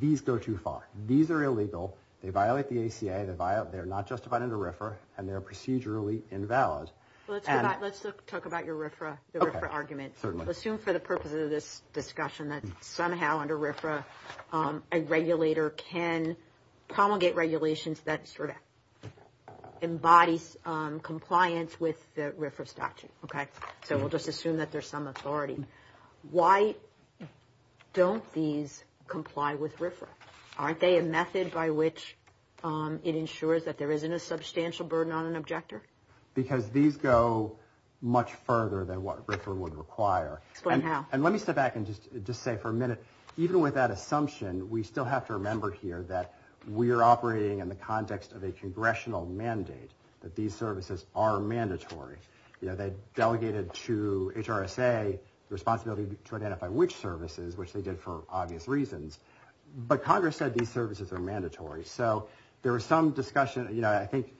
these go too far. These are illegal. They violate the ACA. They're not justified under RFRA and they're procedurally invalid. Let's talk about your RFRA argument. Assume for the purpose of this discussion that somehow under RFRA, a regulator can promulgate regulations that sort of embodies compliance with the RFRA statute. Okay. So we'll just assume that there's some authority. Why don't these comply with RFRA? Aren't they a method by which it ensures that there isn't a substantial burden on an objector? Because these go much further than what RFRA would require. Somehow. And let me step back and just say for a minute, even with that assumption, we still have to remember here that we are operating in the context of a congressional mandate, that these services are mandatory. They delegated to HRSA the responsibility to identify which services, which they did for obvious reasons. But Congress said these services are mandatory. So there was some discussion, you know, I think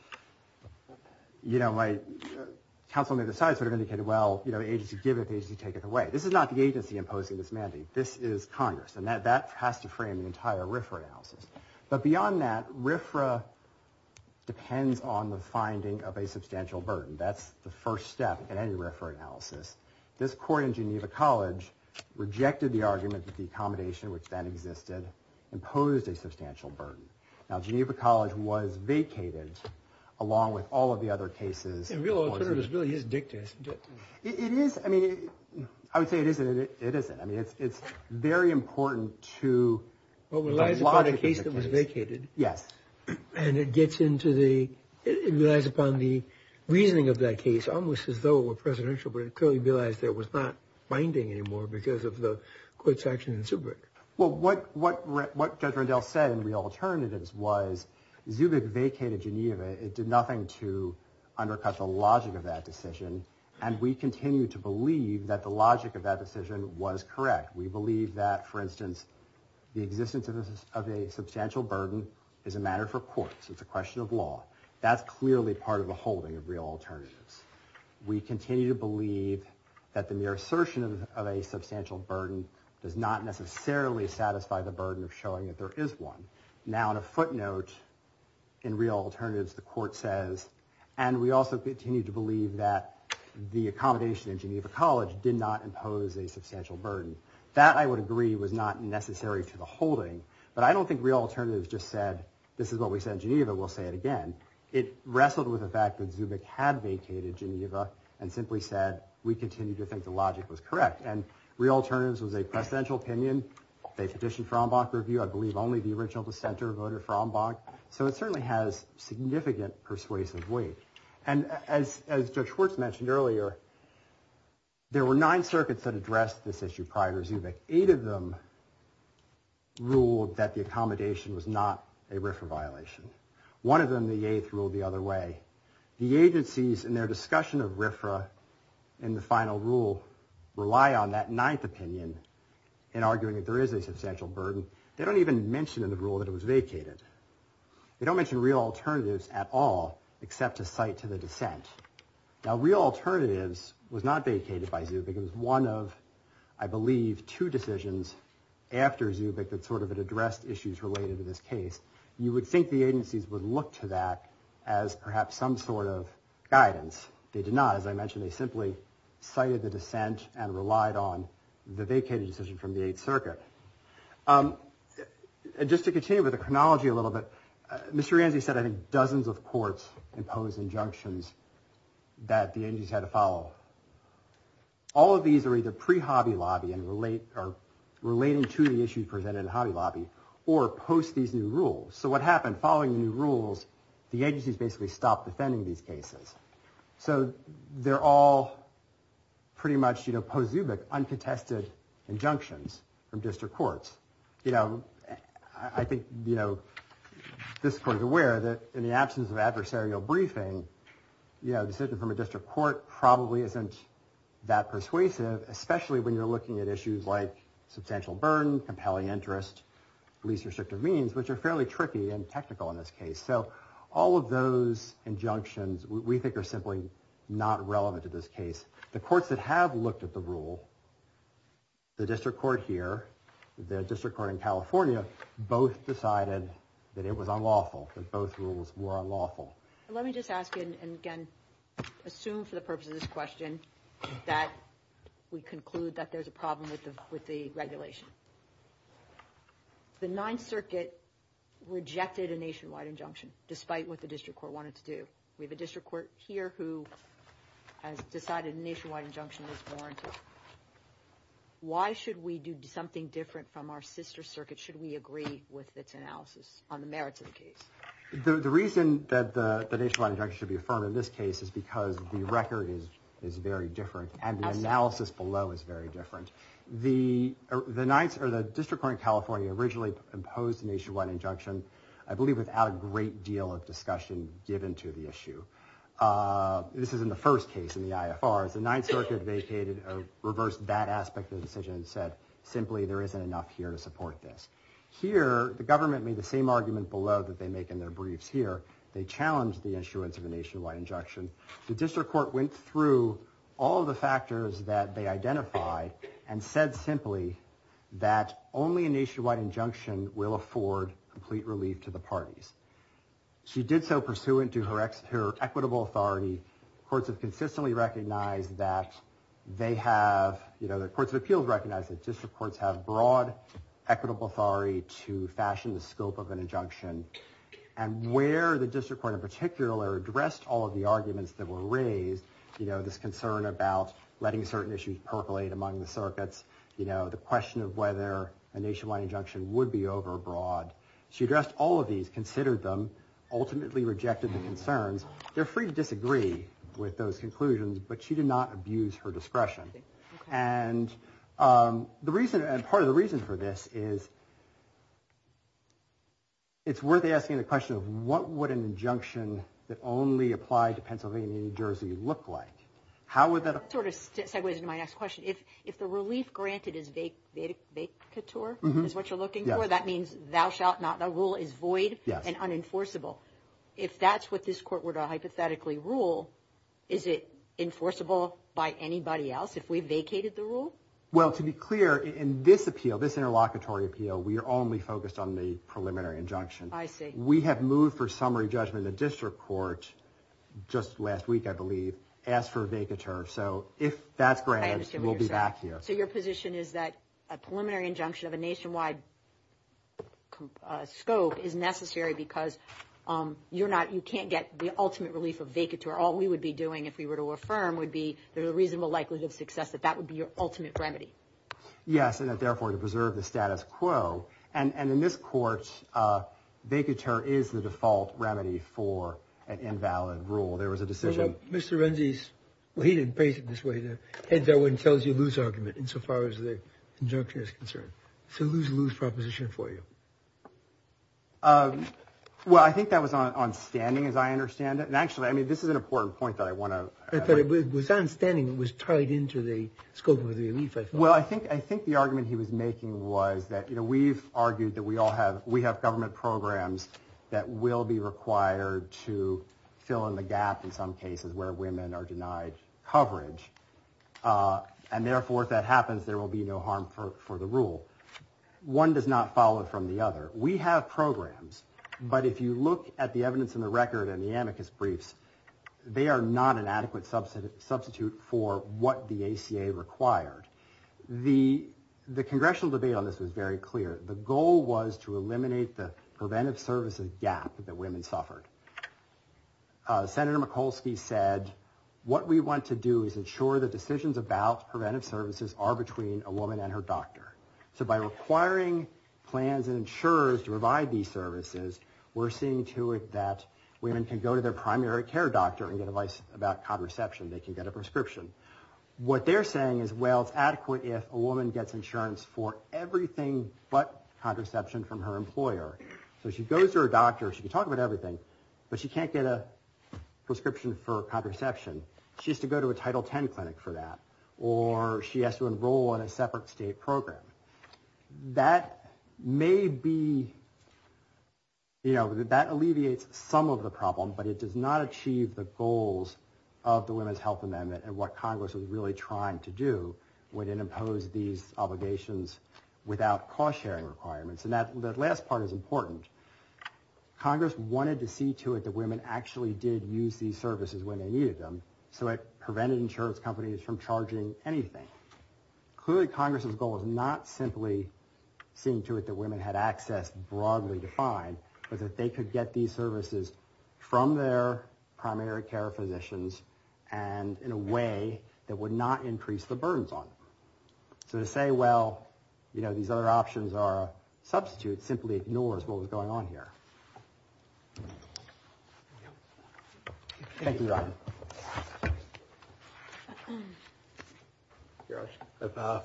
Councilman Beside sort of indicated, well, agencies give it, agencies take it away. This is not the agency imposing this mandate. This is Congress. And that has to frame an entire RFRA analysis. But beyond that, RFRA depends on the finding of a substantial burden. And that's the first step in any RFRA analysis. This court in Geneva College rejected the argument that the accommodation which then existed imposed a substantial burden. Now, Geneva College was vacated along with all of the other cases. It really is dictated. It is. I mean, I would say it isn't, it isn't. I mean, it's very important to. Well, it was vacated. Yes. And it gets into the, it relies upon the reasoning of that case, almost as though a presidential, but it clearly realized there was not binding anymore because of the court's action in Zubik. Well, what, what, what Fred Rendell said in the alternatives was Zubik vacated Geneva. It did nothing to undercut the logic of that decision. And we continue to believe that the logic of that decision was correct. We believe that for instance, the existence of a substantial burden is a matter for courts. It's a question of law. That's clearly part of the holding of real alternatives. We continue to believe that the mere assertion of a substantial burden does not necessarily satisfy the burden of showing that there is one now on a footnote in real alternatives, the court says, and we also continue to believe that the accommodation in Geneva college did not impose a substantial burden that I would agree was not necessary to the holding, this is what we said in Geneva. We'll say it again. It wrestled with the fact that Zubik had vacated Geneva and simply said, we continue to think the logic was correct. And real alternatives was a presidential opinion. They petitioned Frombach review. I believe only the original, the center voted Frombach. So it certainly has significant persuasive weight. And as, as George mentioned earlier, there were nine circuits that addressed this issue prior to Zubik. Eight of them ruled that the accommodation was not a RIFRA violation. One of them, the eighth ruled the other way, the agencies and their discussion of RIFRA in the final rule rely on that ninth opinion and arguing that there is a substantial burden. They don't even mention in the rule that it was vacated. They don't mention real alternatives at all, except to fight to the defense. Now real alternatives was not vacated by Zubik. Because one of, I believe two decisions after Zubik that sort of addressed issues related to this case, you would think the agencies would look to that as perhaps some sort of guidance. They did not, as I mentioned, they simply cited the dissent and relied on the vacated decision from the eighth circuit. Just to continue with the chronology a little bit, Mr. Yandy said, I think dozens of courts impose injunctions that the engines had to follow all of these are either pre Hobby Lobby and relate or relating to the issue presented in Hobby Lobby or post these new rules. So what happened following new rules, the agencies basically stopped defending these cases. So they're all pretty much, you know, post Zubik unprotected injunctions from district courts. You know, I think, you know, this court is aware that in the absence of adversarial briefing, you know, the decision from a district court probably isn't that persuasive, especially when you're looking at issues like substantial burden, compelling interest, least restrictive means, which are fairly tricky and technical in this case. So all of those injunctions we think are simply not relevant to this case. The courts that have looked at the rule, the district court here, the district court in California, both decided that it was unlawful. Both rules were unlawful. Let me just ask you, and again, assume for the purpose of this question, that we conclude that there's a problem with the, with the regulation. The ninth circuit rejected a nationwide injunction, despite what the district court wanted to do. We have a district court here who decided nationwide injunction was warranted. Why should we do something different from our sister circuit? Should we agree with this analysis on the merits of the case? The reason that the nationwide injunction should be affirmed in this case is because the record is very different and the analysis below is very different. The district court in California originally imposed nationwide injunction, I believe, without a great deal of discussion given to the issue. This is in the first case in the IFR. The ninth circuit vacated a reverse bad aspect of the decision and said, simply, there isn't enough here to support this. Here, the government made the same argument below that they make in their briefs here. They challenged the issuance of a nationwide injunction. The district court went through all the factors that they identified and said, simply, that only a nationwide injunction will afford complete relief to the parties. She did so pursuant to her equitable authority. Courts have consistently recognized that they have, you know, fashion the scope of an injunction and where the district court in particular addressed all of the arguments that were raised, you know, this concern about letting certain issues percolate among the circuits, you know, the question of whether a nationwide injunction would be over abroad. She addressed all of these, considered them, ultimately rejected the concerns. They're free to disagree with those conclusions, but she did not abuse her discretion. And the reason, and part of the reason for this is. It's worth asking the question of what would an injunction that only applied to Pennsylvania, New Jersey look like? How would that sort of segue into my next question? If, if the relief granted is baked, baked to tour is what you're looking for. That means thou shalt not the rule is void and unenforceable. If that's what this court were to hypothetically rule, is it enforceable by anybody else? If we vacated the rule? Well, to be clear in this appeal, this interlocutory appeal, we are only focused on the preliminary injunction. I think we have moved for summary judgment. The district court just last week, I believe, asked for a vacancy. So if that's granted, we'll be back here. So your position is that a preliminary injunction of a nationwide scope is necessary because you're not, you can't get the ultimate relief of vacancy or all we would be doing. If we were to affirm would be there's a reasonable likelihood of success that that would be your ultimate remedy. Yes. And if therefore to preserve the status quo and, and in this courts, they could turn is the default remedy for an invalid rule. There was a decision. Mr. Renzi's. He didn't pay it this way. The heads. I wouldn't tell us you lose argument insofar as the injunction is concerned. So lose, lose proposition for you. Well, I think that was on standing as I understand it. And actually, I mean, this is an important point that I want to understand. It was tied into the scope of the, well, I think, I think the argument he was making was that, you know, we've argued that we all have, we have government programs that will be required to fill in the gap. In some cases where women are denied coverage. And therefore, if that happens, there will be no harm for, for the rule. One does not follow from the other. We have programs, but if you look at the evidence in the record and the amicus briefs, they are not an adequate substance substitute for what the ACA required. The, the congressional debate on this is very clear. The goal was to eliminate the preventive services gap that women suffered. Senator Mikulski said, what we want to do is ensure that decisions about preventive services are between a woman and her doctor. So by requiring plans and insurers to provide these services, we're seeing to it that women can go to their primary care doctor and get advice about contraception. They can get a prescription. What they're saying is, well, adequate. If a woman gets insurance for everything, but contraception from her employer. So she goes to her doctor. She can talk about everything, but she can't get a prescription for contraception. She has to go to a title 10 clinic for that, or she has to enroll in a separate state program. That may be, you know, that alleviates some of the problem, but it does not achieve the goals of the women's health amendment and what Congress was really trying to do within impose these obligations without cost sharing requirements. And that last part is important. Congress wanted to see to it that women actually did use these services when they needed them. So it prevented insurance companies from charging anything. Clearly Congress's goal is not simply seeing to it that women had access broadly defined, but that they could get these services from their primary care physicians. And in a way that would not increase the burdens on them to say, well, you know, these other options are substitute simply ignores what was going on here.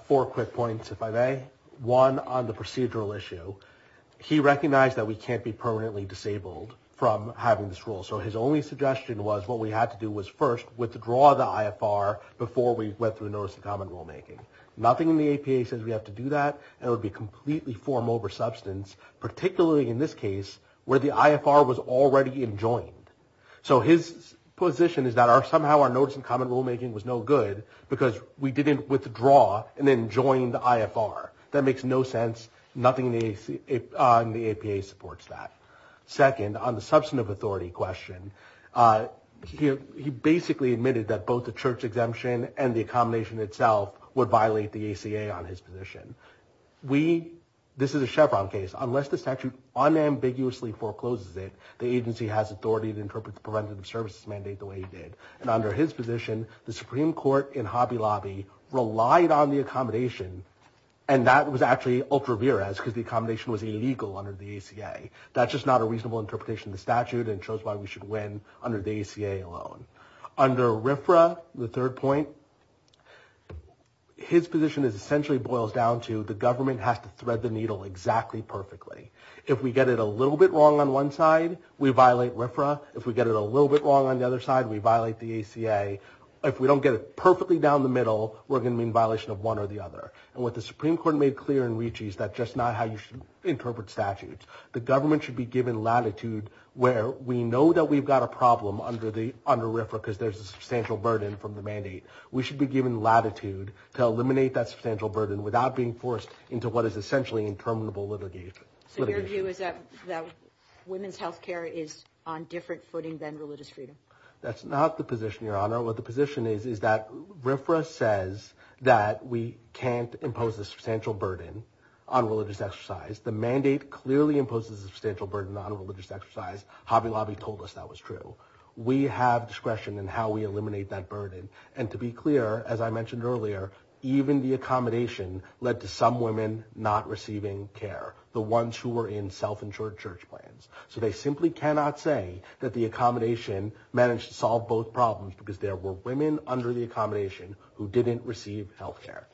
Four quick points. If I may one on the procedural issue, he recognized that we can't be permanently disabled from having this role. So his only suggestion was what we had to do was first withdraw the IFR before we went through the notice of common rulemaking, nothing in the APA says we have to do that. And it would be completely form over substance, particularly in this case where the IFR was already enjoined. So his position is that our, somehow our notice and common rulemaking was no good because we didn't withdraw and then joined the IFR. That makes no sense. Nothing in the APA supports that. Second on the substantive authority question, he basically admitted that both the church exemption and the accommodation itself would violate the ACA on his position. We, this is a Chevron case, unless the statute unambiguously forecloses it, the agency has authority to interpret the preventative services mandate the way they did. And under his position, the Supreme court in Hobby Lobby relied on the accommodation. And that was actually ultra-virus because the accommodation was illegal under the ACA. That's just not a reasonable interpretation of the statute and shows why we should win under the ACA alone. Under RFRA, the third point his position is essentially boils down to the government has to thread the needle exactly perfectly. If we get it a little bit wrong on one side, we violate RFRA. If we get it a little bit wrong on the other side, we violate the ACA. If we don't get it perfectly down the middle, we're going to be in violation of one or the other. And what the Supreme court made clear in Ritchie is that just not how you should interpret statutes. The government should be given latitude where we know that we've got a problem under RFRA because there's a substantial burden from the mandate. We should be given latitude to eliminate that substantial burden without being forced into what is essentially impermeable litigation. So your view is that women's health care is on different footing than religious freedom? That's not the position, Your Honor. What the position is is that RFRA says that we can't impose a substantial burden on religious exercise. The mandate clearly imposes a substantial burden on religious exercise. Hobby Lobby told us that was true. We have discretion in how we eliminate that burden. And to be clear, as I mentioned earlier, even the accommodation led to some women not receiving care. The ones who were in self-insured church plans. So they simply cannot say that the accommodation managed to solve both problems because there were women under the accommodation who didn't receive health care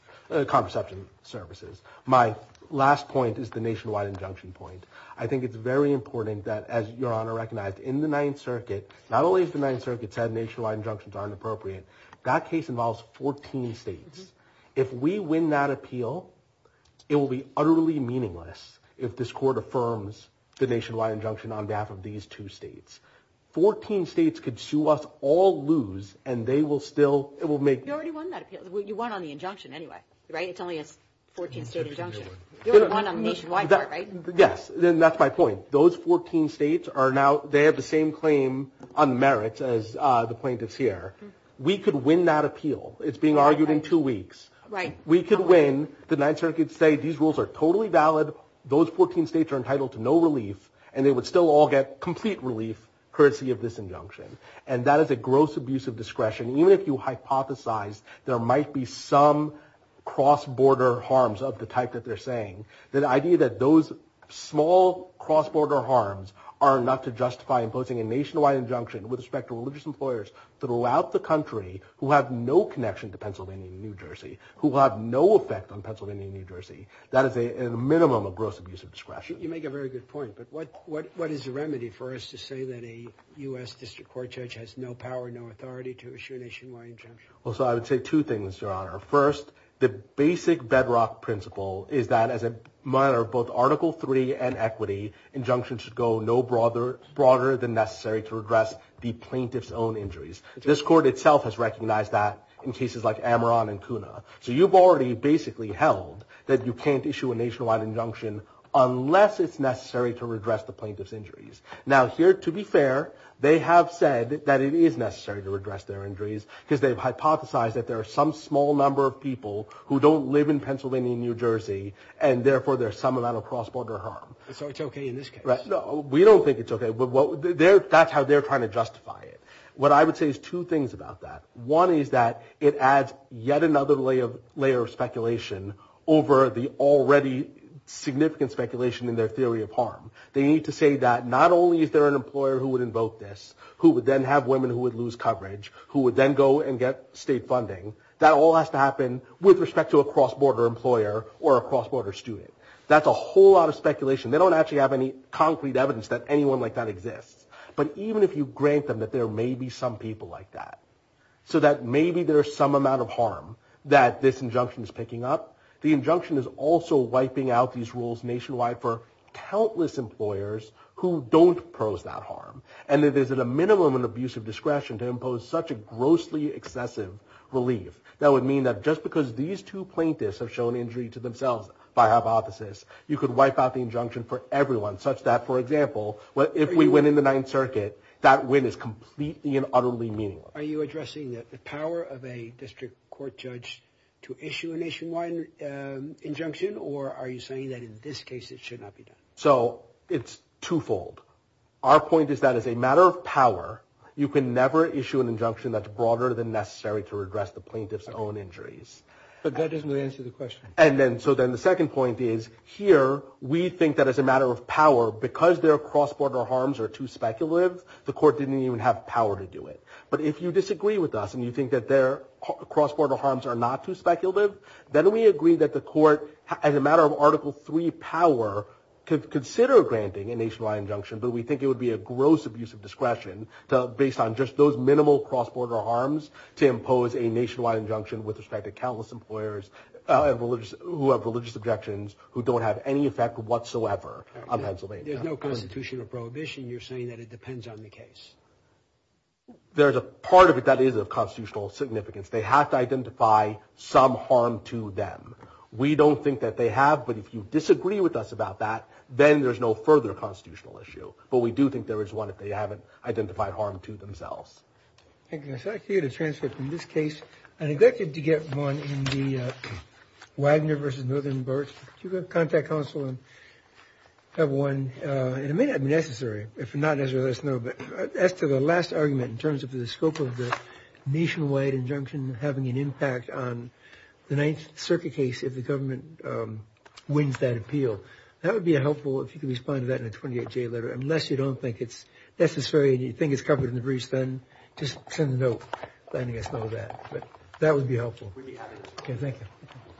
contraception services. My last point is the nationwide injunction point. I think it's very important that as Your Honor recognized in the ninth circuit, not only is the ninth circuit said, nationwide injunctions are inappropriate. That case involves 14 states. If we win that appeal, it will be utterly meaningless if this court affirms the nationwide injunction on behalf of these two states. Fourteen states could sue us all loose and they will still make. You already won that appeal. You won on the injunction anyway, right? It's only a 14-state injunction. You already won on the nationwide part, right? Yes, and that's my point. Those 14 states are now, they have the same claim on merits as the plaintiffs here. We could win that appeal. It's being argued in two weeks. Right. We could win. The ninth circuit could say these rules are totally valid. Those 14 states are entitled to no relief and they would still all get complete relief courtesy of this injunction, and that is a gross abuse of discretion. Even if you hypothesize there might be some cross-border harms of the type that they're saying, the idea that those small cross-border harms are enough to justify imposing a nationwide injunction with respect to religious employers throughout the connection to Pennsylvania and New Jersey who have no effect on Pennsylvania and New Jersey. That is a minimum of gross abuse of discretion. You make a very good point, but what is the remedy for us to say that a U.S. District Court judge has no power, no authority to issue a nationwide injunction? Well, so I would say two things, Your Honor. First, the basic bedrock principle is that as a matter of both Article III and equity, injunctions should go no broader than necessary to address the plaintiff's own injuries. This court itself has recognized that in cases like Ameron and CUNA. So you've already basically held that you can't issue a nationwide injunction unless it's necessary to redress the plaintiff's injuries. Now here, to be fair, they have said that it is necessary to redress their injuries because they've hypothesized that there are some small number of people who don't live in Pennsylvania and New Jersey, and therefore there's some amount of cross-border harm. So it's okay in this case? No, we don't think it's okay. That's how they're trying to justify it. What I would say is two things about that. One is that it adds yet another layer of speculation over the already significant speculation in their theory of harm. They need to say that not only is there an employer who would invoke this, who would then have women who would lose coverage, who would then go and get state funding, that all has to happen with respect to a cross-border employer or a cross-border student. That's a whole lot of speculation. They don't actually have any concrete evidence that anyone like that exists. But even if you grant them that there may be some people like that, so that maybe there's some amount of harm that this injunction is picking up, the injunction is also wiping out these rules nationwide for countless employers who don't pose that harm, and that there's a minimum of abuse of discretion to impose such a grossly excessive relief. That would mean that just because these two plaintiffs have shown injury to themselves by hypothesis, you could wipe out the injunction for everyone such that, for example, if we win in the Ninth Circuit, that win is completely and utterly meaningless. Are you addressing that the power of a district court judge to issue a nationwide injunction, or are you saying that in this case it should not be done? So it's twofold. Our point is that as a matter of power, you can never issue an injunction that's broader than necessary to address the plaintiff's own injuries. But that doesn't really answer the question. And then so then the second point is, here we think that as a matter of power, because their cross-border harms are too speculative, the court didn't even have power to do it. But if you disagree with us and you think that their cross-border harms are not too speculative, then we agree that the court, as a matter of Article III power, could consider granting a nationwide injunction, but we think it would be a gross abuse of discretion based on just those minimal cross-border harms to impose a nationwide injunction with respect to the plaintiff's own injuries. the fact that they have no right to do it, doesn't have any effect whatsoever on Pennsylvania. There's no constitutional prohibition. You're saying that it depends on the case? There's a part of it that is of constitutional significance. They have to identify some harm to them. We don't think that they have, but if you disagree with us about that, then there's no further constitutional issue. But we do think there is one if they haven't identified harm to themselves. I'd like for you to transcribe from this case. I neglected to get one in the Widener versus Northern Berts. You can contact counsel and have one. It may not be necessary. If not necessary, let us know. As to the last argument in terms of the scope of the nationwide injunction having an impact on the Ninth Circuit case, if the government wins that appeal, that would be helpful if you could respond to that in a 28-J letter. Unless you don't think it's necessary, and you think it's covered in the briefs, then just send a note letting us know that. But that would be helpful. Thank you.